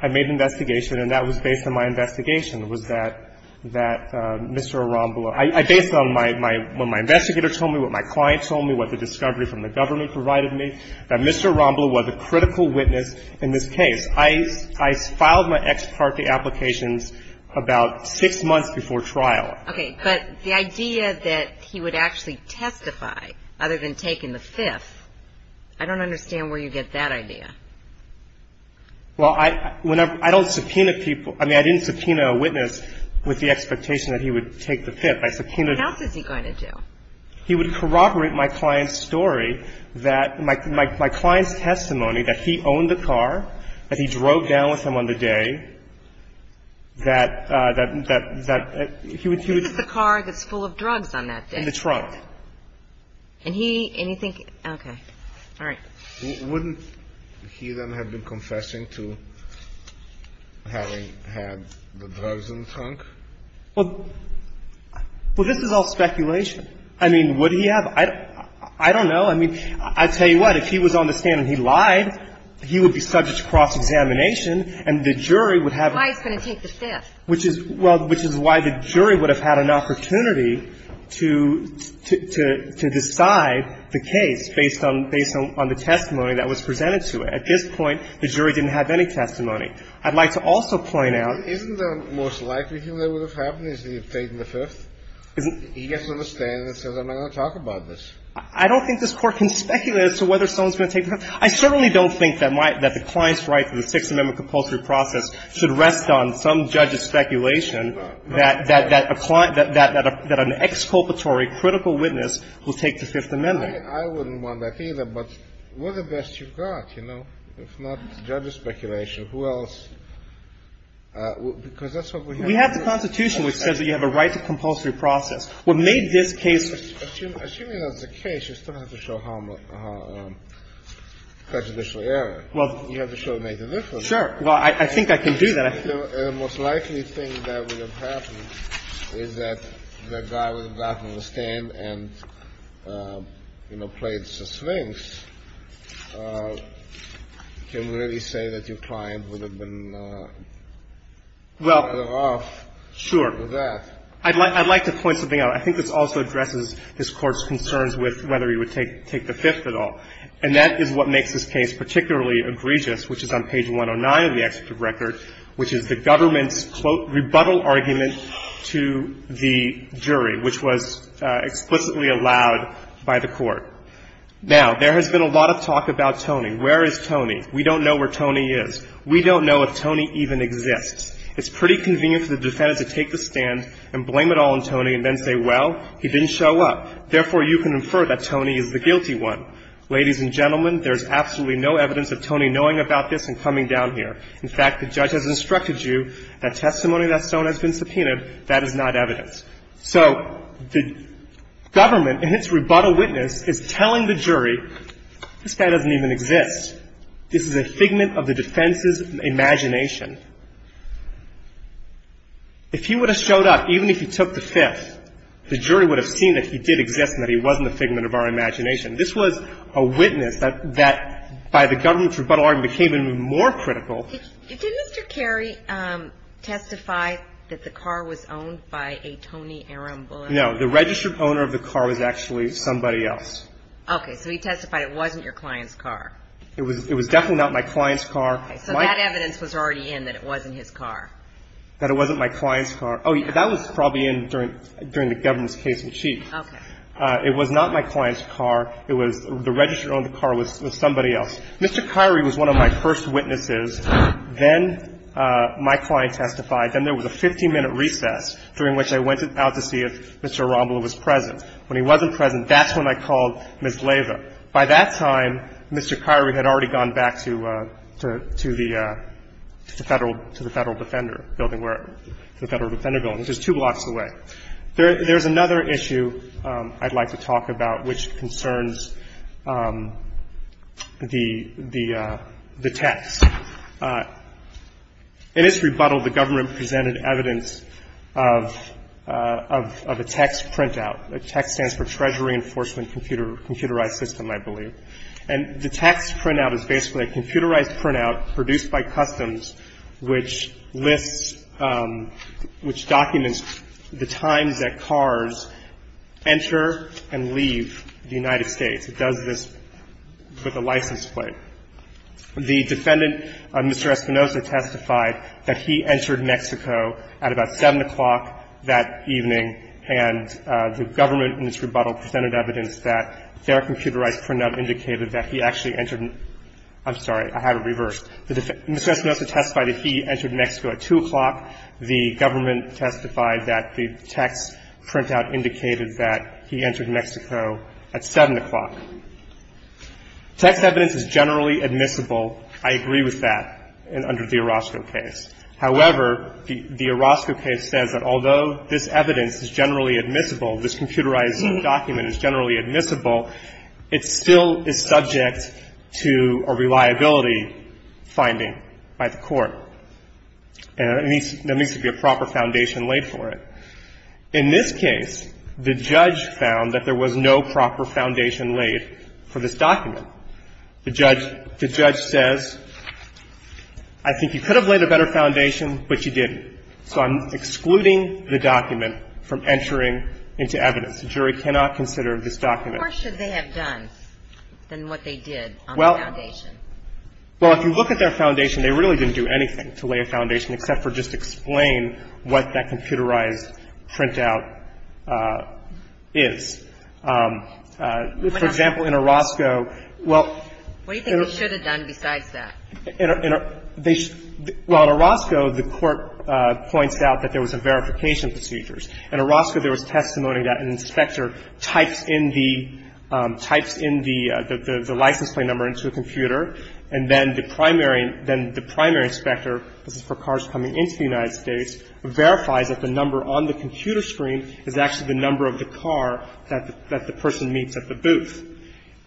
I made an investigation, and that was based on my investigation. It was that Mr. Arambola... Based on what my investigator told me, what my client told me, what the discovery from the government provided me, that Mr. Arambola was a critical witness in this case. I filed my ex parte applications about six months before trial. Okay. But the idea that he would actually testify, other than taking the fifth, I don't understand where you get that idea. Well, I don't subpoena people. I mean, I didn't subpoena a witness with the expectation that he would take the fifth. I subpoenaed... What else is he going to do? He would corroborate my client's story that my client's testimony that he owned the car, that he drove down with him on the day, that he was... The car that's full of drugs on that day. In the trunk. And he... Okay. All right. Wouldn't he then have been confessing to having had the drugs in the trunk? Well, this is all speculation. I mean, would he have? I don't know. I mean, I tell you what. If he was on the stand and he lied, he would be subject to cross-examination, and the jury would have... The client's going to take the fifth. Well, which is why the jury would have had an opportunity to decide the case based on the testimony that was presented to it. At this point, the jury didn't have any testimony. I'd like to also point out... Isn't the most likely thing that would have happened is he had taken the fifth? He gets on the stand and says, I'm going to talk about this. I don't think this court can speculate as to whether someone's going to take the fifth. I certainly don't think that the client's right to the Fifth Amendment compulsory process should rest on some judge's speculation that an exculpatory, critical witness will take the Fifth Amendment. I wouldn't want that either, but we're the best you've got, you know, if not judge's speculation. Who else? Because that's what we... We have the Constitution that says that you have a right to compulsory process. Well, maybe this case... Assuming that's the case, you still have to show how much prejudicial error. Well, you have to show it makes a difference. Sure. Well, I think I can do that. The most likely thing that would have happened is that the guy who got on the stand and, you know, played the Sphinx can really say that your client would have been better off with that. I'd like to point something out. I think this also addresses this court's concerns with whether he would take the fifth at all. And that is what makes this case particularly egregious, which is on page 109 of the executive record, which is the government's rebuttal argument to the jury, which was explicitly allowed by the court. Now, there has been a lot of talk about Tony. Where is Tony? We don't know where Tony is. We don't know if Tony even exists. It's pretty convenient for the defendant to take the stand and blame it all on Tony and then say, well, he didn't show up. Therefore, you can infer that Tony is the guilty one. Ladies and gentlemen, there's absolutely no evidence of Tony knowing about this and coming down here. In fact, the judge has instructed you that testimony that's been subpoenaed, that is not evidence. So the government, in its rebuttal witness, is telling the jury this guy doesn't even exist. This is a figment of the defense's imagination. If he would have showed up, even if he took the fifth, the jury would have seen that he did exist and that he wasn't a figment of our imagination. This was a witness that, by the government's rebuttal argument, became even more critical. Did Mr. Carey testify that the car was owned by a Tony Aaron Bullock? No. The registered owner of the car was actually somebody else. Okay. So he testified it wasn't your client's car. It was definitely not my client's car. Okay. So that evidence was already in that it wasn't his car. That it wasn't my client's car. Oh, that was probably in during the government's case in chief. Okay. It was not my client's car. The registered owner of the car was somebody else. Mr. Carey was one of my first witnesses. Then my client testified. Then there was a 15-minute recess during which I went out to see if Mr. Arambola was present. When he wasn't present, that's when I called Ms. Lava. By that time, Mr. Carey had already gone back to the Federal Defender Building. It was just two blocks away. There's another issue I'd like to talk about which concerns the text. In its rebuttal, the government presented evidence of a text printout. A text printout. A text stands for Treasury Enforcement Computerized System, I believe. The text printout is basically a computerized printout produced by Customs, which documents the time that cars enter and leave the United States. It does this with a license plate. The defendant, Mr. Espinoza, testified that he entered Mexico at about 7 o'clock that evening and the government in this rebuttal presented evidence that their computerized printout indicated that he actually entered. I'm sorry, I had it reversed. Mr. Espinoza testified that he entered Mexico at 2 o'clock. The government testified that the text printout indicated that he entered Mexico at 7 o'clock. Text evidence is generally admissible. I agree with that under the Orozco case. However, the Orozco case says that although this evidence is generally admissible, this computerized document is generally admissible, it still is subject to a reliability finding by the court. And there needs to be a proper foundation laid for it. In this case, the judge found that there was no proper foundation laid for this document. The judge says, I think you could have laid a better foundation, but you didn't. So I'm excluding the document from entering into evidence. The jury cannot consider this document. Or should they have done than what they did on the foundation? Well, if you look at their foundation, they really didn't do anything to lay a foundation except for just explain what that computerized printout is. For example, in Orozco, well, What do you think they should have done besides that? Well, in Orozco, the court points out that there was a verification procedure. In Orozco, there was testimony that an inspector typed in the license plate number into a computer, and then the primary inspector, for cars coming into the United States, verified that the number on the computer screen is actually the number of the car that the person meets at the booth.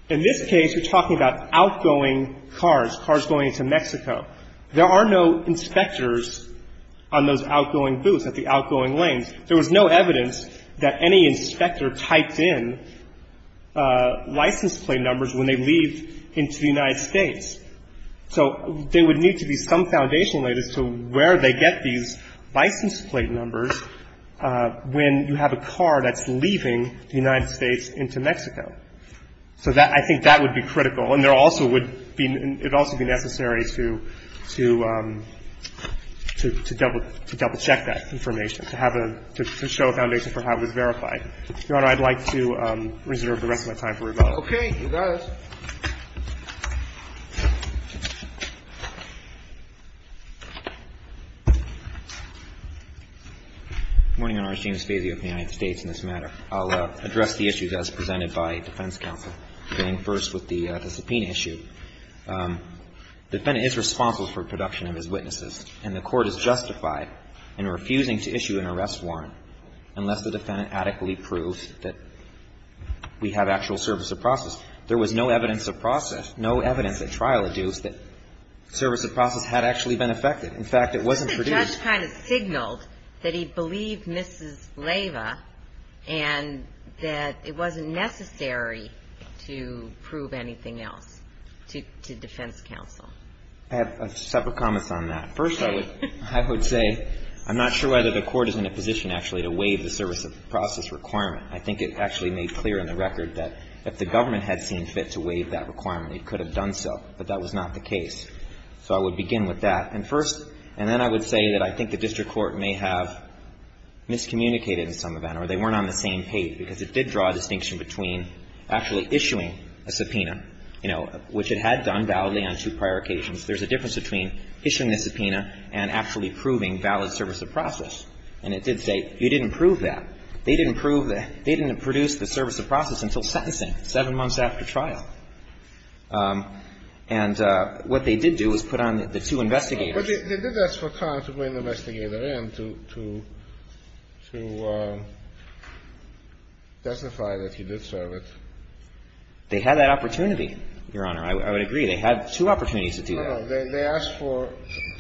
In this case, you're talking about outgoing cars, cars going to Mexico. There are no inspectors on those outgoing booths at the outgoing lane. There was no evidence that any inspector typed in license plate numbers when they leave into the United States. So there would need to be some foundation related to where they get these license plate numbers when you have a car that's leaving the United States into Mexico. So I think that would be critical, and it would also be necessary to double-check that information, to show a foundation for how it was verified. Your Honor, I'd like to reserve the rest of my time for rebuttal. Okay, you guys. Good morning, Your Honor. James Stasiuk of the United States in this matter. I'll address the issues as presented by the defense counsel, beginning first with the subpoena issue. The defendant is responsible for the production of his witnesses, and the court is justified in refusing to issue an arrest warrant unless the defendant adequately proves that we have actual service of process. There was no evidence of process, no evidence at trial, that service of process had actually been affected. In fact, it wasn't produced. The judge kind of signaled that he believed Mrs. Leyva, and that it wasn't necessary to prove anything else to defense counsel. I have a separate comment on that. First, I would say I'm not sure whether the court is in a position, actually, to waive the service of process requirement. I think it's actually made clear in the record that if the government had seen fit to waive that requirement, it could have done so. But that was not the case. So I would begin with that. And first, and then I would say that I think the district court may have miscommunicated in some event, or they weren't on the same page, because it did draw a distinction between actually issuing a subpoena, you know, which it had done validly on two prior occasions. There's a difference between issuing the subpoena and actually proving valid service of process. And it did say you didn't prove that. They didn't produce the service of process until sentencing, seven months after trial. And what they did do is put on the two investigators. But they did ask for time to bring the investigator in to testify that he did serve it. They had that opportunity, Your Honor. I would agree. They had two opportunities to do that. They asked for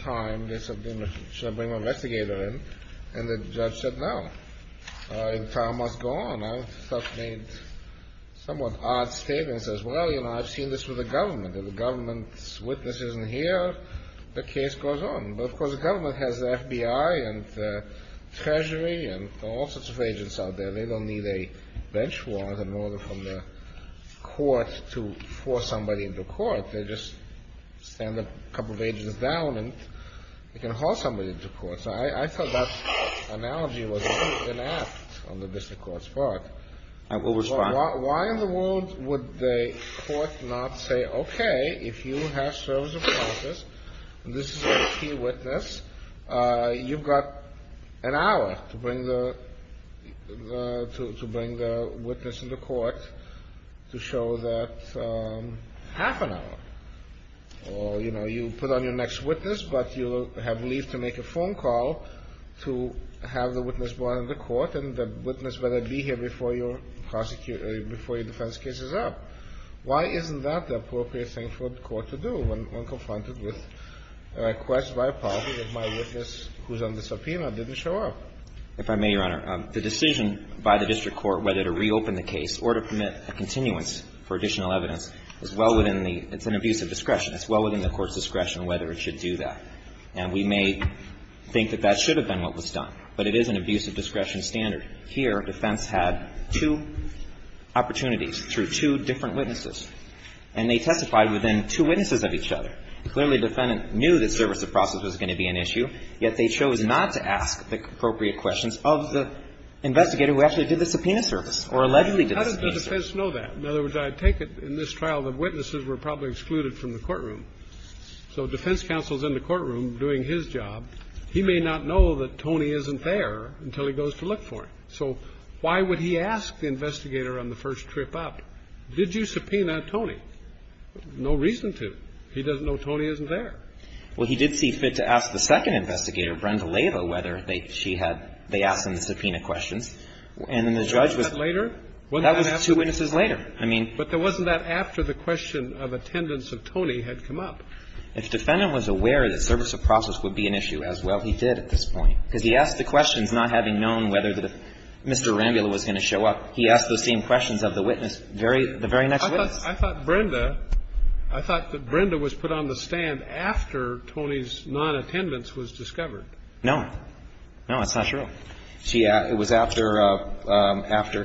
time to bring the investigator in, and the judge said no. The trial must go on. I've made somewhat odd statements as well. You know, I've seen this with the government. If the government's witness isn't here, the case goes on. But, of course, the government has the FBI and the Treasury and all sorts of agents out there. They don't need a bench warrant in order for the court to force somebody into court. They just stand a couple of agents down, and they can haul somebody into court. So I thought that analogy was really inept on the district court's part. Why in the world would the court not say, okay, if you have service of process, and this is a key witness, you've got an hour to bring the witness into court to show that half an hour, or, you know, you put on your next witness, but you have leave to make a phone call to have the witness brought into court, and the witness better be here before your defense case is up. Why isn't that the appropriate thing for the court to do when confronted with a request by a policy that my witness who's under subpoena didn't show up? If I may, Your Honor, the decision by the district court whether to reopen the case or to permit a continuance for additional evidence is well within the – it's an abuse of discretion. It's well within the court's discretion whether it should do that. And we may think that that should have been what was done, but it is an abuse of discretion standard. Here, defense had two opportunities through two different witnesses, and they testified within two witnesses of each other. Clearly, the defendant knew that service of process was going to be an issue, yet they chose not to ask the appropriate questions of the investigator who actually did the subpoena service or allegedly did the subpoena service. How did the defense know that? In other words, I take it in this trial the witnesses were probably excluded from the courtroom. So defense counsel's in the courtroom doing his job. He may not know that Tony isn't there until he goes to look for him. So why would he ask the investigator on the first trip up, did you subpoena Tony? No reason to. He doesn't know Tony isn't there. Well, he did see fit to ask the second investigator, Brenda Layla, whether she had – they asked him the subpoena questions. And the judge was – Wasn't that later? That was two witnesses later. I mean – But there wasn't that after the question of attendance of Tony had come up. If defendant was aware that service of process would be an issue as well, he did at this point. Because he asked the questions not having known whether Mr. Arambula was going to show up. He asked the same questions of the witness, the very next witness. I thought Brenda – I thought that Brenda was put on the stand after Tony's non-attendance was discovered. No. No, that's not true. She – it was after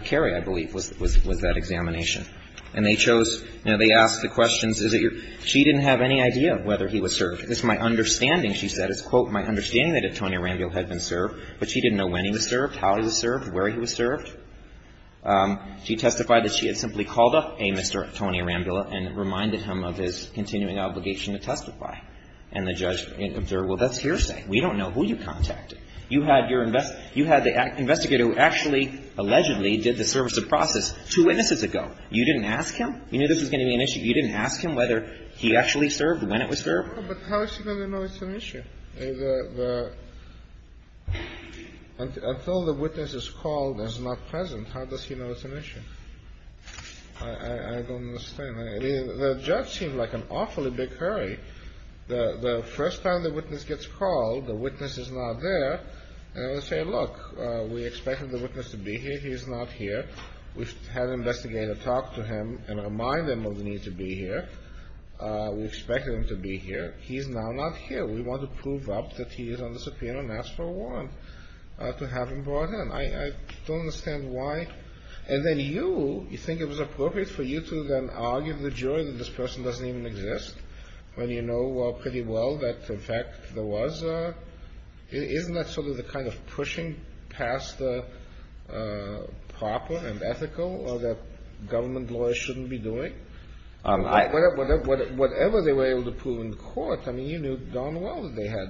Kerry, I believe, was that examination. And they chose – you know, they asked the questions – she didn't have any idea whether he was served. It's my understanding, she said, it's, quote, my understanding that if Tony Arambula had been served, but she didn't know when he was served, how he was served, where he was served. She testified that she had simply called up a Mr. Tony Arambula and reminded him of his continuing obligation to testify. And the judge said, well, that's hearsay. We don't know who you contacted. You had your – you had the investigator who actually, allegedly, did the service of process two witnesses ago. You didn't ask him? You knew this was going to be an issue. You didn't ask him whether he actually served, when it was served? But how is she going to know it's an issue? The – until the witness is called and is not present, how does he know it's an issue? I don't understand. The judge seemed like an awfully big hurry. The first time the witness gets called, the witness is not there. They say, look, we expected the witness to be here. He is not here. We had the investigator talk to him and remind him of the need to be here. We expected him to be here. He is now not here. We want to prove up that he is on the subpoena and ask for a warrant to have him brought in. I don't understand why. And then you, you think it was appropriate for you to then argue to the jury that this person doesn't even exist, when you know pretty well that, in fact, there was a – isn't that sort of the kind of pushing past the proper and ethical that government lawyers shouldn't be doing? Whatever they were able to prove in court, I mean, you knew darn well that they had,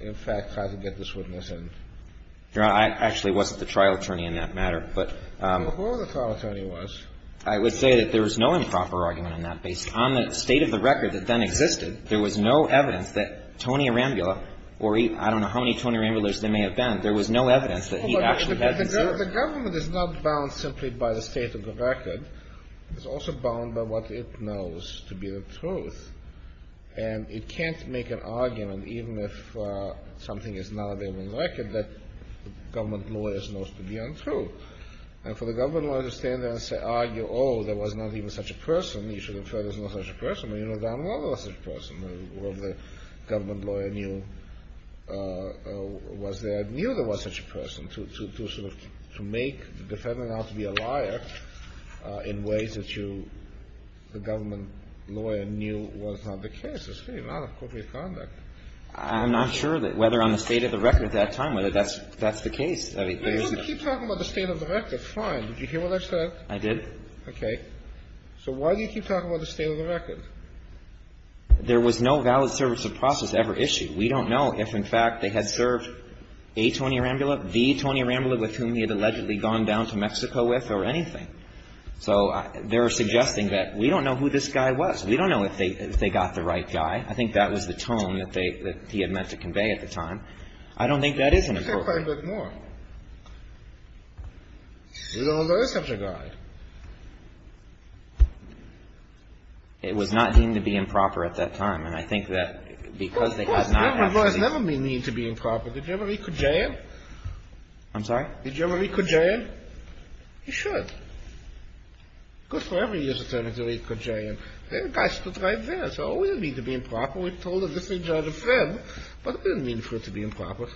in fact, tried to get this witness in. Your Honor, I actually wasn't the trial attorney in that matter, but – Well, who the trial attorney was. I would say that there was no improper argument on that basis. On the state of the record that then existed, there was no evidence that Tony Arambula, or I don't know how many Tony Arambulas there may have been, there was no evidence that he actually – The government is not bound simply by the state of the record. It's also bound by what it knows to be the truth. And it can't make an argument, even if something is not available on the record, that the government lawyer knows to be untrue. And for the government lawyer to stand there and argue, oh, there was not even such a person, you should have said there was no such a person, when you know darn well there was such a person, when the government lawyer knew, was there, knew there was such a person, to make the defendant out to be a liar in ways that you, the government lawyer, knew was not the case. It's the same amount of corporate conduct. I'm not sure that whether on the state of the record at that time, whether that's the case. You keep talking about the state of the record, it's fine. Did you hear what I said? I did. Okay. So why do you keep talking about the state of the record? There was no valid service of process ever issued. We don't know if, in fact, they had served A. Tony Arambula, B. Tony Arambula, with whom he had allegedly gone down to Mexico with or anything. So they're suggesting that we don't know who this guy was. We don't know if they got the right guy. I think that was the tone that he had meant to convey at the time. I don't think that is in his program. He said quite a bit more. He said, oh, there was such a guy. It was not deemed to be improper at that time. And I think that because they had not had the... Well, it never means to be improper. Did you ever read Kajan? I'm sorry? Did you ever read Kajan? You should. Of course, whoever uses them has to read Kajan. That guy stood right there. So, oh, it doesn't mean to be improper. We've told a different kind of friend. But it doesn't mean for it to be improper.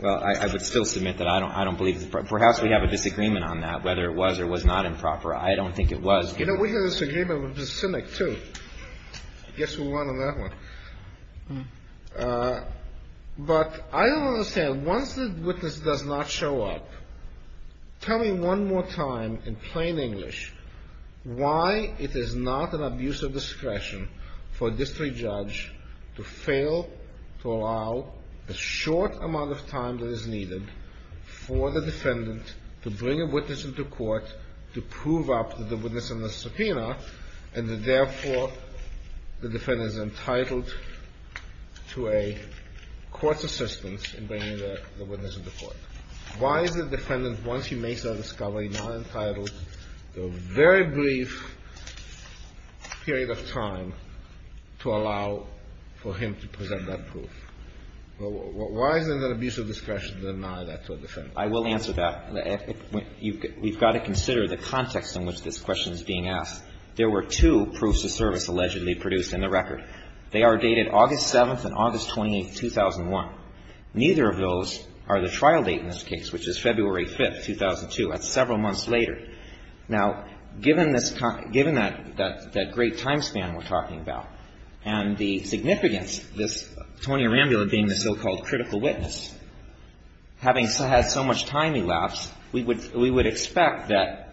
Well, I would still submit that I don't believe... Perhaps we have a disagreement on that, whether it was or was not improper. I don't think it was. You know, we had a disagreement with the cynic, too. I guess we won on that one. But I don't understand. Once the witness does not show up, tell me one more time in plain English why it is not an abuse of discretion for a district judge to fail to allow a short amount of time that is needed for the defendant to bring a witness into court to prove up that the witness is a subpoena and that, therefore, the defendant is entitled to a court's assistance in bringing the witness into court. Why is the defendant, once he makes that discovery, not entitled to a very brief period of time to allow for him to present that proof? Why is it an abuse of discretion to deny that to the defendant? I will answer that. We've got to consider the context in which this question is being asked. There were two proofs of service allegedly produced in the record. They are dated August 7th and August 28th, 2001. Neither of those are the trial date in this case, which is February 5th, 2002. That's several months later. Now, given that great time span we're talking about and the significance, this Tony Arambula being the so-called critical witness, having had so much time he left, we would expect that,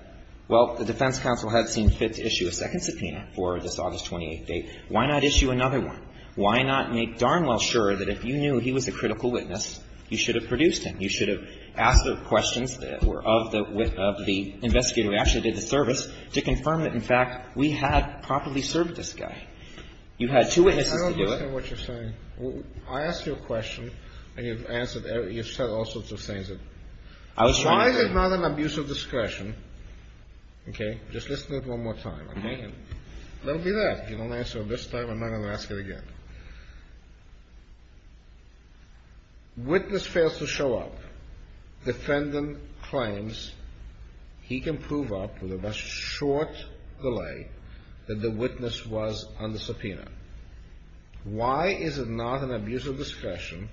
well, the defense counsel has been fit to issue a second subpoena for this August 28th date. Why not issue another one? Why not make darn well sure that if you knew he was the critical witness, you should have produced him? You should have asked the question of the investigator who actually did the service to confirm that, in fact, we had properly served this guy. You had two witnesses to do that. I don't understand what you're saying. I asked you a question, and you've said all sorts of things. Why is it not an abuse of discretion? Just listen to this one more time. Don't do that. If you don't answer this time, I'm not going to ask it again. Witness fails to show up. Defendant claims he can prove up with a short delay that the witness was on the subpoena. Why is it not an abuse of discretion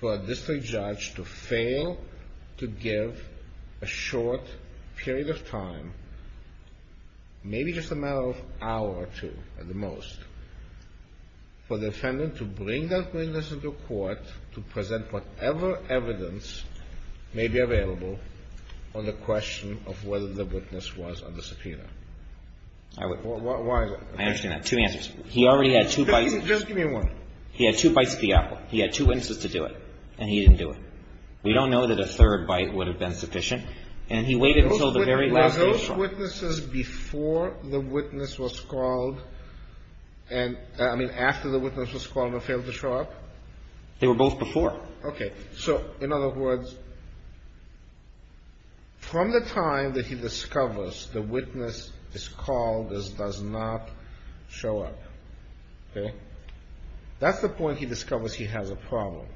for a district judge to fail to give a short period of time, maybe just a matter of an hour or two at the most, for the defendant to bring that witness into court to present whatever evidence may be available on the question of whether the witness was on the subpoena? I understand that. Two answers. He already had two bites. Just give me one. He had two bites at the apple. He had two witnesses to do it, and he didn't do it. We don't know that a third bite would have been sufficient, and he waited until the very last minute. Were those witnesses before the witness was called, and, I mean, after the witness was called, and failed to show up? They were both before. Okay. So, in other words, from the time that he discovers the witness is called and does not show up, okay, that's the point he discovers he has a problem,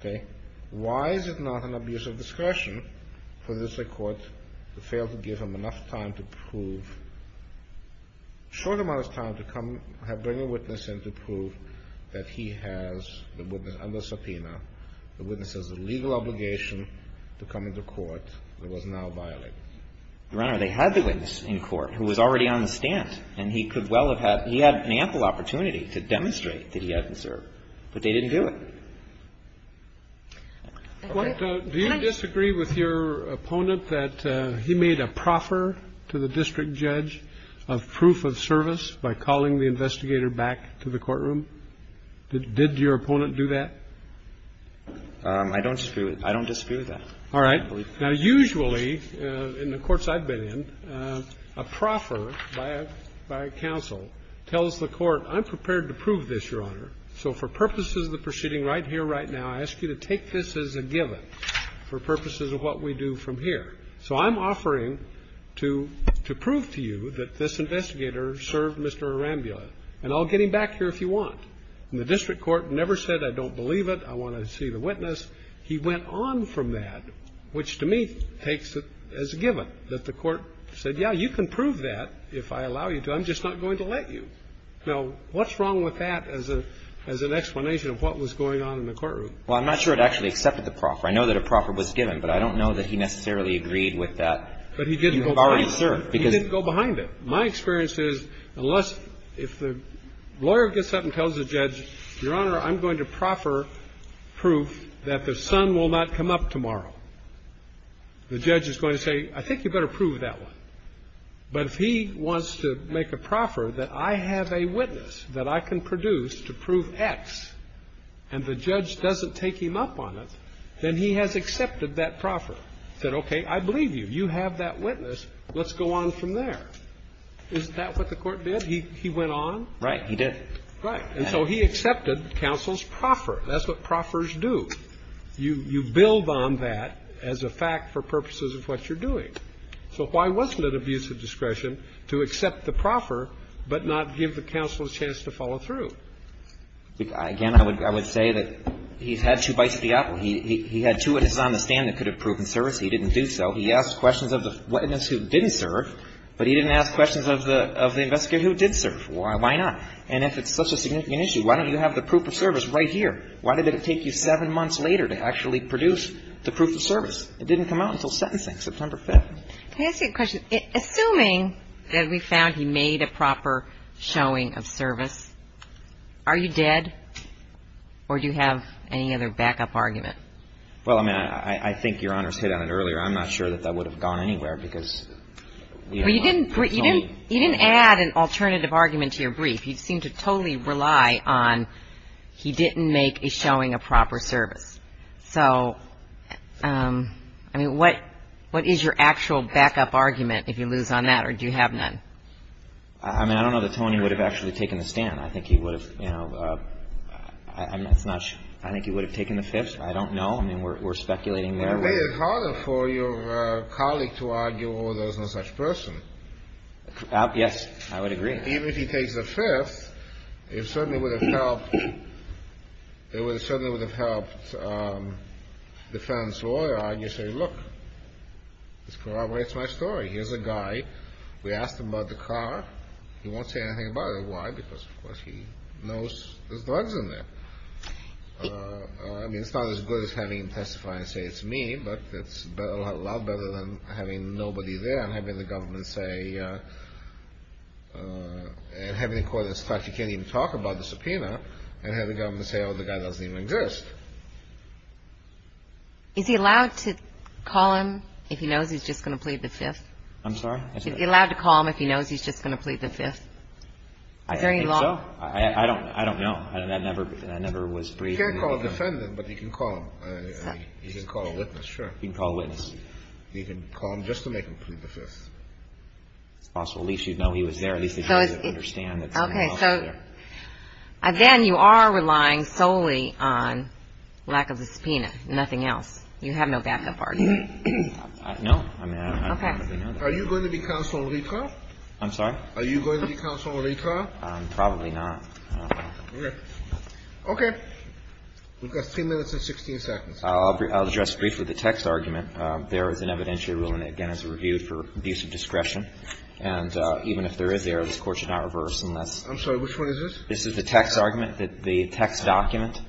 okay? Why is it not an abuse of discretion for the district court to fail to give him enough time to prove, a short amount of time to come and bring a witness in to prove that he has the witness on the subpoena, the witness has a legal obligation to come into court that was now violated? Your Honor, they had the witness in court who was already on the stand, and he could well have had, he had an ample opportunity to demonstrate that he hasn't served, but they didn't do it. Do you disagree with your opponent that he made a proffer to the district judge of proof of service by calling the investigator back to the courtroom? Did your opponent do that? I don't dispute that. All right. Now, usually, in the courts I've been in, a proffer by counsel tells the court, I'm prepared to prove this, Your Honor, so for purposes of the proceeding right here, right now, I ask you to take this as a given for purposes of what we do from here. So I'm offering to prove to you that this investigator served Mr. Arambula, and I'll get him back here if you want. And the district court never said I don't believe it, I want to see the witness. He went on from that, which to me takes it as a given that the court said, yeah, you can prove that if I allow you to, I'm just not going to let you. Now, what's wrong with that as an explanation of what was going on in the courtroom? Well, I'm not sure it actually accepted the proffer. I know that a proffer was given, but I don't know that he necessarily agreed with that. But he didn't go behind it. He didn't go behind it. My experience is unless if the lawyer gets up and tells the judge, Your Honor, I'm going to proffer proof that the son will not come up tomorrow. The judge is going to say, I think you better prove that one. But if he wants to make a proffer that I have a witness that I can produce to prove X, and the judge doesn't take him up on it, then he has accepted that proffer. He said, okay, I believe you. You have that witness. Let's go on from there. Isn't that what the court did? He went on? Right. He did. Right. And so he accepted counsel's proffer. That's what proffers do. You build on that as a fact for purposes of what you're doing. So why wasn't it abuse of discretion to accept the proffer but not give the counsel a chance to follow through? Again, I would say that he had two bites of the apple. He had two witnesses on the stand that could have proven service. He didn't do so. He asked questions of the witness who didn't serve, but he didn't ask questions of the investigator who did serve. Why not? And that's a significant issue. Why don't you have the proof of service right here? Why did it take you seven months later to actually produce the proof of service? It didn't come out until sentencing, September 5th. Can I ask you a question? Assuming that we found he made a proper showing of service, are you dead or do you have any other backup argument? Well, I mean, I think Your Honor's hit on it earlier. I'm not sure that that would have gone anywhere because, you know, I'm not controlling it. You didn't add an alternative argument to your brief. You seem to totally rely on he didn't make a showing of proper service. So, I mean, what is your actual backup argument, if you lose on that, or do you have none? I mean, I don't know that Tony would have actually taken the stand. I think he would have, you know, I'm not sure. I think he would have taken the fifth. I don't know. I mean, we're speculating there. I think it's harder for your colleague to argue when there's no such person. Yes, I would agree. Even if he takes the fifth, it certainly would have helped the defense lawyer, I guess, say, look, this corroborates my story. Here's a guy. We asked him about the car. He won't say anything about it. Why? Because, of course, he knows there's drugs in there. I mean, it's not as good as having the testifier say it's me, but it's a lot better than having nobody there and having the government say, having the court decide you can't even talk about the subpoena and having the government say, oh, the guy doesn't even exist. Is he allowed to call him if he knows he's just going to plead the fifth? I'm sorry? Is he allowed to call him if he knows he's just going to plead the fifth? I think so. I don't know. I never was briefed. You can't call a defendant, but you can call him. You can call a witness. Sure. You can call a witness. You can call him just to make him plead the fifth. Also, at least you'd know he was there. At least he'd be able to understand. Okay. So then you are relying solely on lack of a subpoena, nothing else. You have no backup argument. No. Okay. Are you going to be counsel in retrial? I'm sorry? Are you going to be counsel in retrial? Probably not. Okay. We've got three minutes and 16 seconds. I'll address briefly the text argument. There is an evidentiary ruling, again, as a review for abuse of discretion. And even if there is, this court should not reverse unless... I'm sorry. Which one is this? This is the text argument, the text document.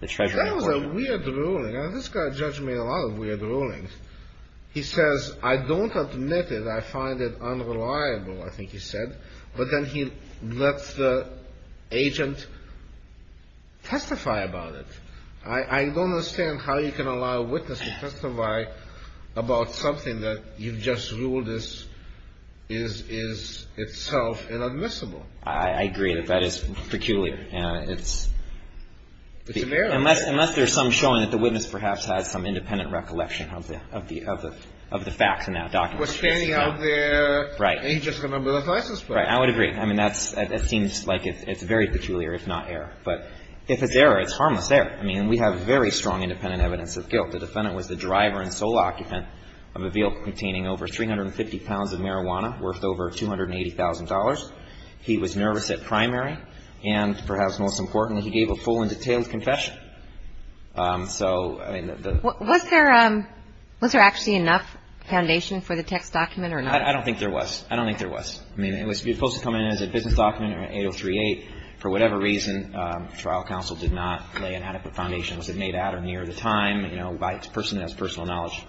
That was a weird ruling. This guy judged me on a lot of weird rulings. He says, I don't admit it. I find it unreliable, I think he said. But then he let the agent testify about it. I don't understand how you can allow a witness to testify about something that you've just ruled is itself inadmissible. I agree that that is peculiar. It's very peculiar. Unless there is some showing that the witness perhaps had some independent recollection of the facts in that document. Well, standing out there, he's just going to build a license plate. I would agree. I mean, that seems like it's very peculiar. It's not error. But if it's error, it's harmless error. I mean, we have very strong independent evidence of guilt. The defendant was the driver and sole occupant of a vehicle containing over 350 pounds of marijuana, worth over $280,000. He was nervous at primary. And perhaps most importantly, he gave a full and detailed confession. So, I mean... Was there actually enough foundation for the text document or not? I don't think there was. I don't think there was. I mean, it was supposed to come in as a business document or an 8038. For whatever reason, trial counsel did not lay an adequate foundation. Was it made at or near the time? You know, by the person that has personal knowledge.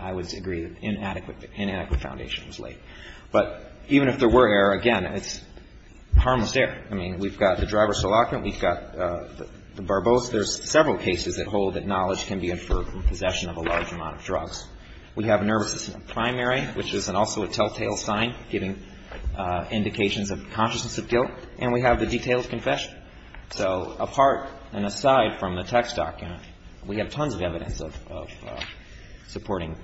I would agree that inadequate foundation was laid. But even if there were error, again, it's harmless error. I mean, we've got the driver, sole occupant. We've got the barbos. There's several cases that hold that knowledge can be inferred from possession of a large amount of drugs. We have nervousness at primary, which is also a telltale sign, giving indications of consciousness of guilt. And we have the detailed confession. So, apart and aside from the text document, we have tons of evidence of supporting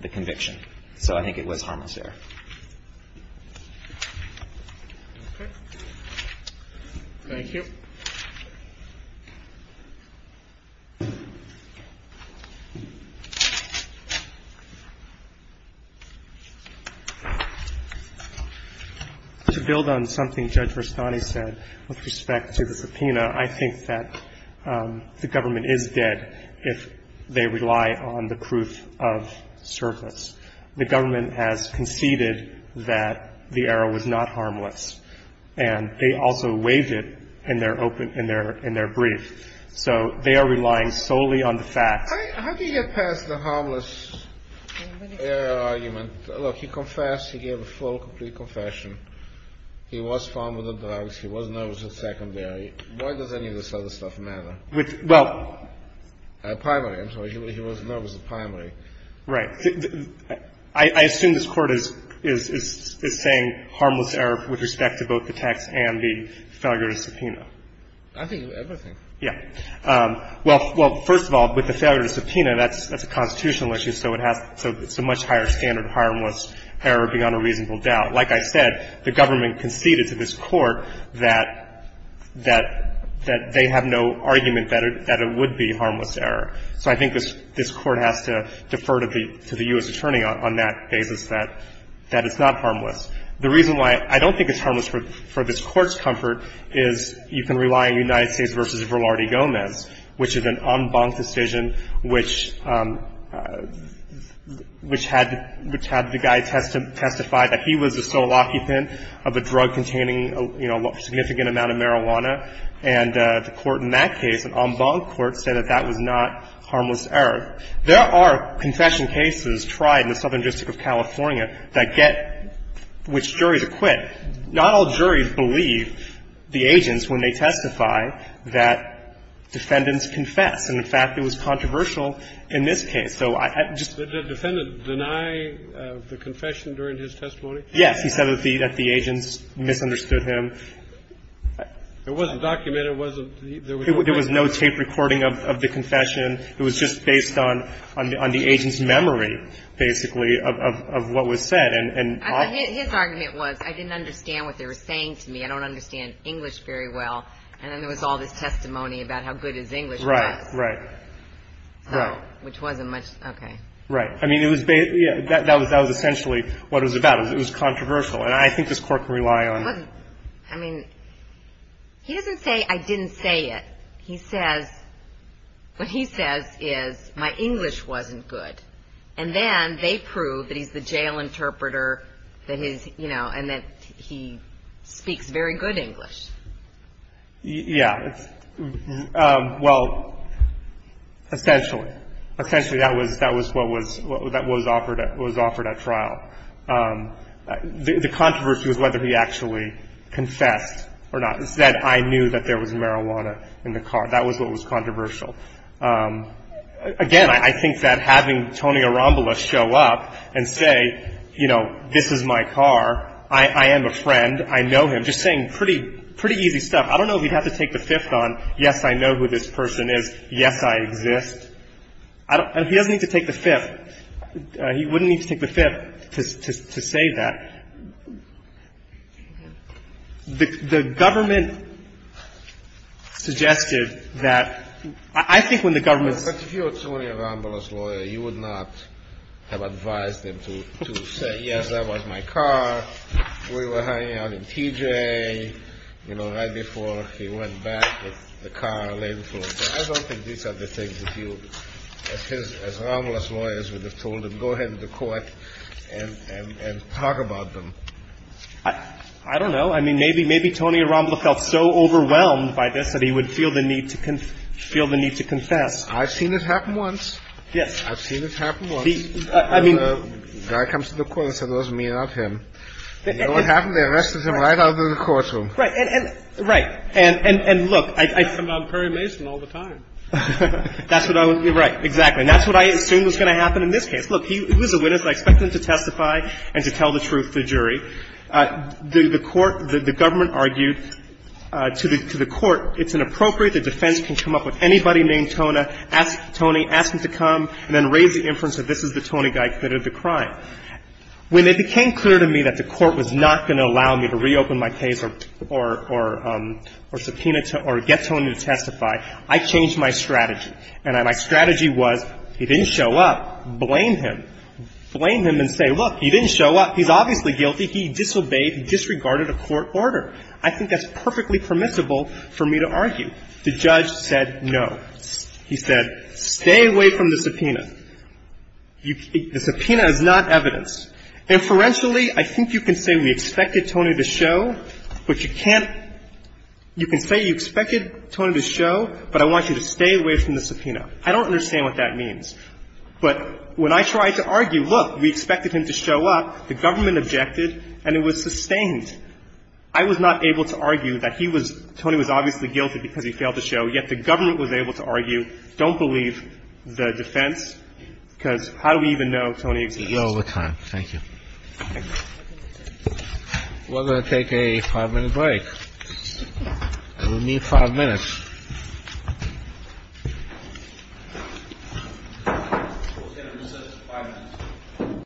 the conviction. So, I think it was harmless error. Thank you. To build on something Judge Rastani said with respect to the subpoena, I think that the government is dead if they rely on the proof of service. The government has conceded that the error was not harmless. And they also waive it in their brief. So, they are relying solely on the fact. How do you get past the harmless error argument? Look, he confessed. He gave a full, complete confession. He was found with the drugs. He was nervous at secondary. Why does any of this other stuff matter? At primary, I'm sorry. He was nervous at primary. Right. I assume this court is saying harmless error with respect to both the text and the founder's subpoena. I think everything. Yeah. Well, first of all, with the founder's subpoena, that's a constitutional issue. So, it's a much higher standard of harmless error beyond a reasonable doubt. Like I said, the government conceded to this court that they have no argument that it would be harmless error. So, I think this court has to defer to the U.S. Attorney on that basis that it's not harmless. The reason why I don't think it's harmless for this court's comfort is you can rely on United States v. Velarde Gomez, which is an en banc decision which had the guy testify that he was the sole occupant of a drug containing a significant amount of marijuana. And the court in that case, an en banc court, said that that was not harmless error. There are confession cases tried in the Southern District of California that get which jury to quit. Not all juries believe the agents when they testify that defendants confess. And, in fact, it was controversial in this case. So, I just — Did the defendant deny the confession during his testimony? Yes. He said that the agents misunderstood him. It wasn't documented. It wasn't — There was no tape recording of the confession. It was just based on the agent's memory, basically, of what was said. His argument was, I didn't understand what they were saying to me. I don't understand English very well. And then there was all this testimony about how good his English was. Right. Right. Which wasn't much — okay. Right. I mean, it was — that was essentially what it was about. It was controversial. And I think this court can rely on — I mean, he doesn't say, I didn't say it. He says — what he says is, my English wasn't good. And then they prove that he's a jail interpreter, that his — you know, and that he speaks very good English. Yeah. Well, essentially. Essentially, that was what was offered at trial. The controversy was whether he actually confessed or not. He said, I knew that there was marijuana in the car. That was what was controversial. Again, I think that having Tony Arambola show up and say, you know, this is my car. I am a friend. I know him. Just saying pretty easy stuff. I don't know if he'd have to take the fifth on, yes, I know who this person is, yes, I exist. He doesn't need to take the fifth. He wouldn't need to take the fifth to say that. The government suggested that — I think when the government — But if you were Tony Arambola's lawyer, you would not have advised him to say, yes, that was my car. We were hanging out in TJ, you know, right before he went back, the car lay in front. I don't think these are the things that you — as Arambola's lawyers would have told him, and talk about them. I don't know. I mean, maybe Tony Arambola felt so overwhelmed by this that he would feel the need to confess. I've seen this happen once. Yes. I've seen this happen once. I mean — Guy comes to the court and says, it wasn't me, not him. And you know what happened? They arrested him right out of the courtroom. Right. And look, I — I'm Perry Mason all the time. That's what I would — right, exactly. And that's what I assumed was going to happen in this case. Look, he was a witness. I expect him to testify and to tell the truth to the jury. The court — the government argued to the court, it's inappropriate. The defense can come up with anybody named Tony, ask him to come, and then raise the inference that this is the Tony Guy who committed the crime. When it became clear to me that the court was not going to allow me to reopen my case or subpoena — or get Tony to testify, I changed my strategy. And my strategy was, he didn't show up. Blame him. Blame him and say, look, he didn't show up. He's obviously guilty. He disobeyed and disregarded a court order. I think that's perfectly permissible for me to argue. The judge said no. He said, stay away from the subpoena. The subpoena is not evidence. I don't understand what that means. But when I tried to argue, look, we expected him to show up, the government objected, and it was sustained. I was not able to argue that he was — Tony was obviously guilty because he failed to show, yet the government was able to argue, don't believe the defense, because how do we even know Tony is guilty? You're out of time. Thank you. We're going to take a five-minute break. We need five minutes.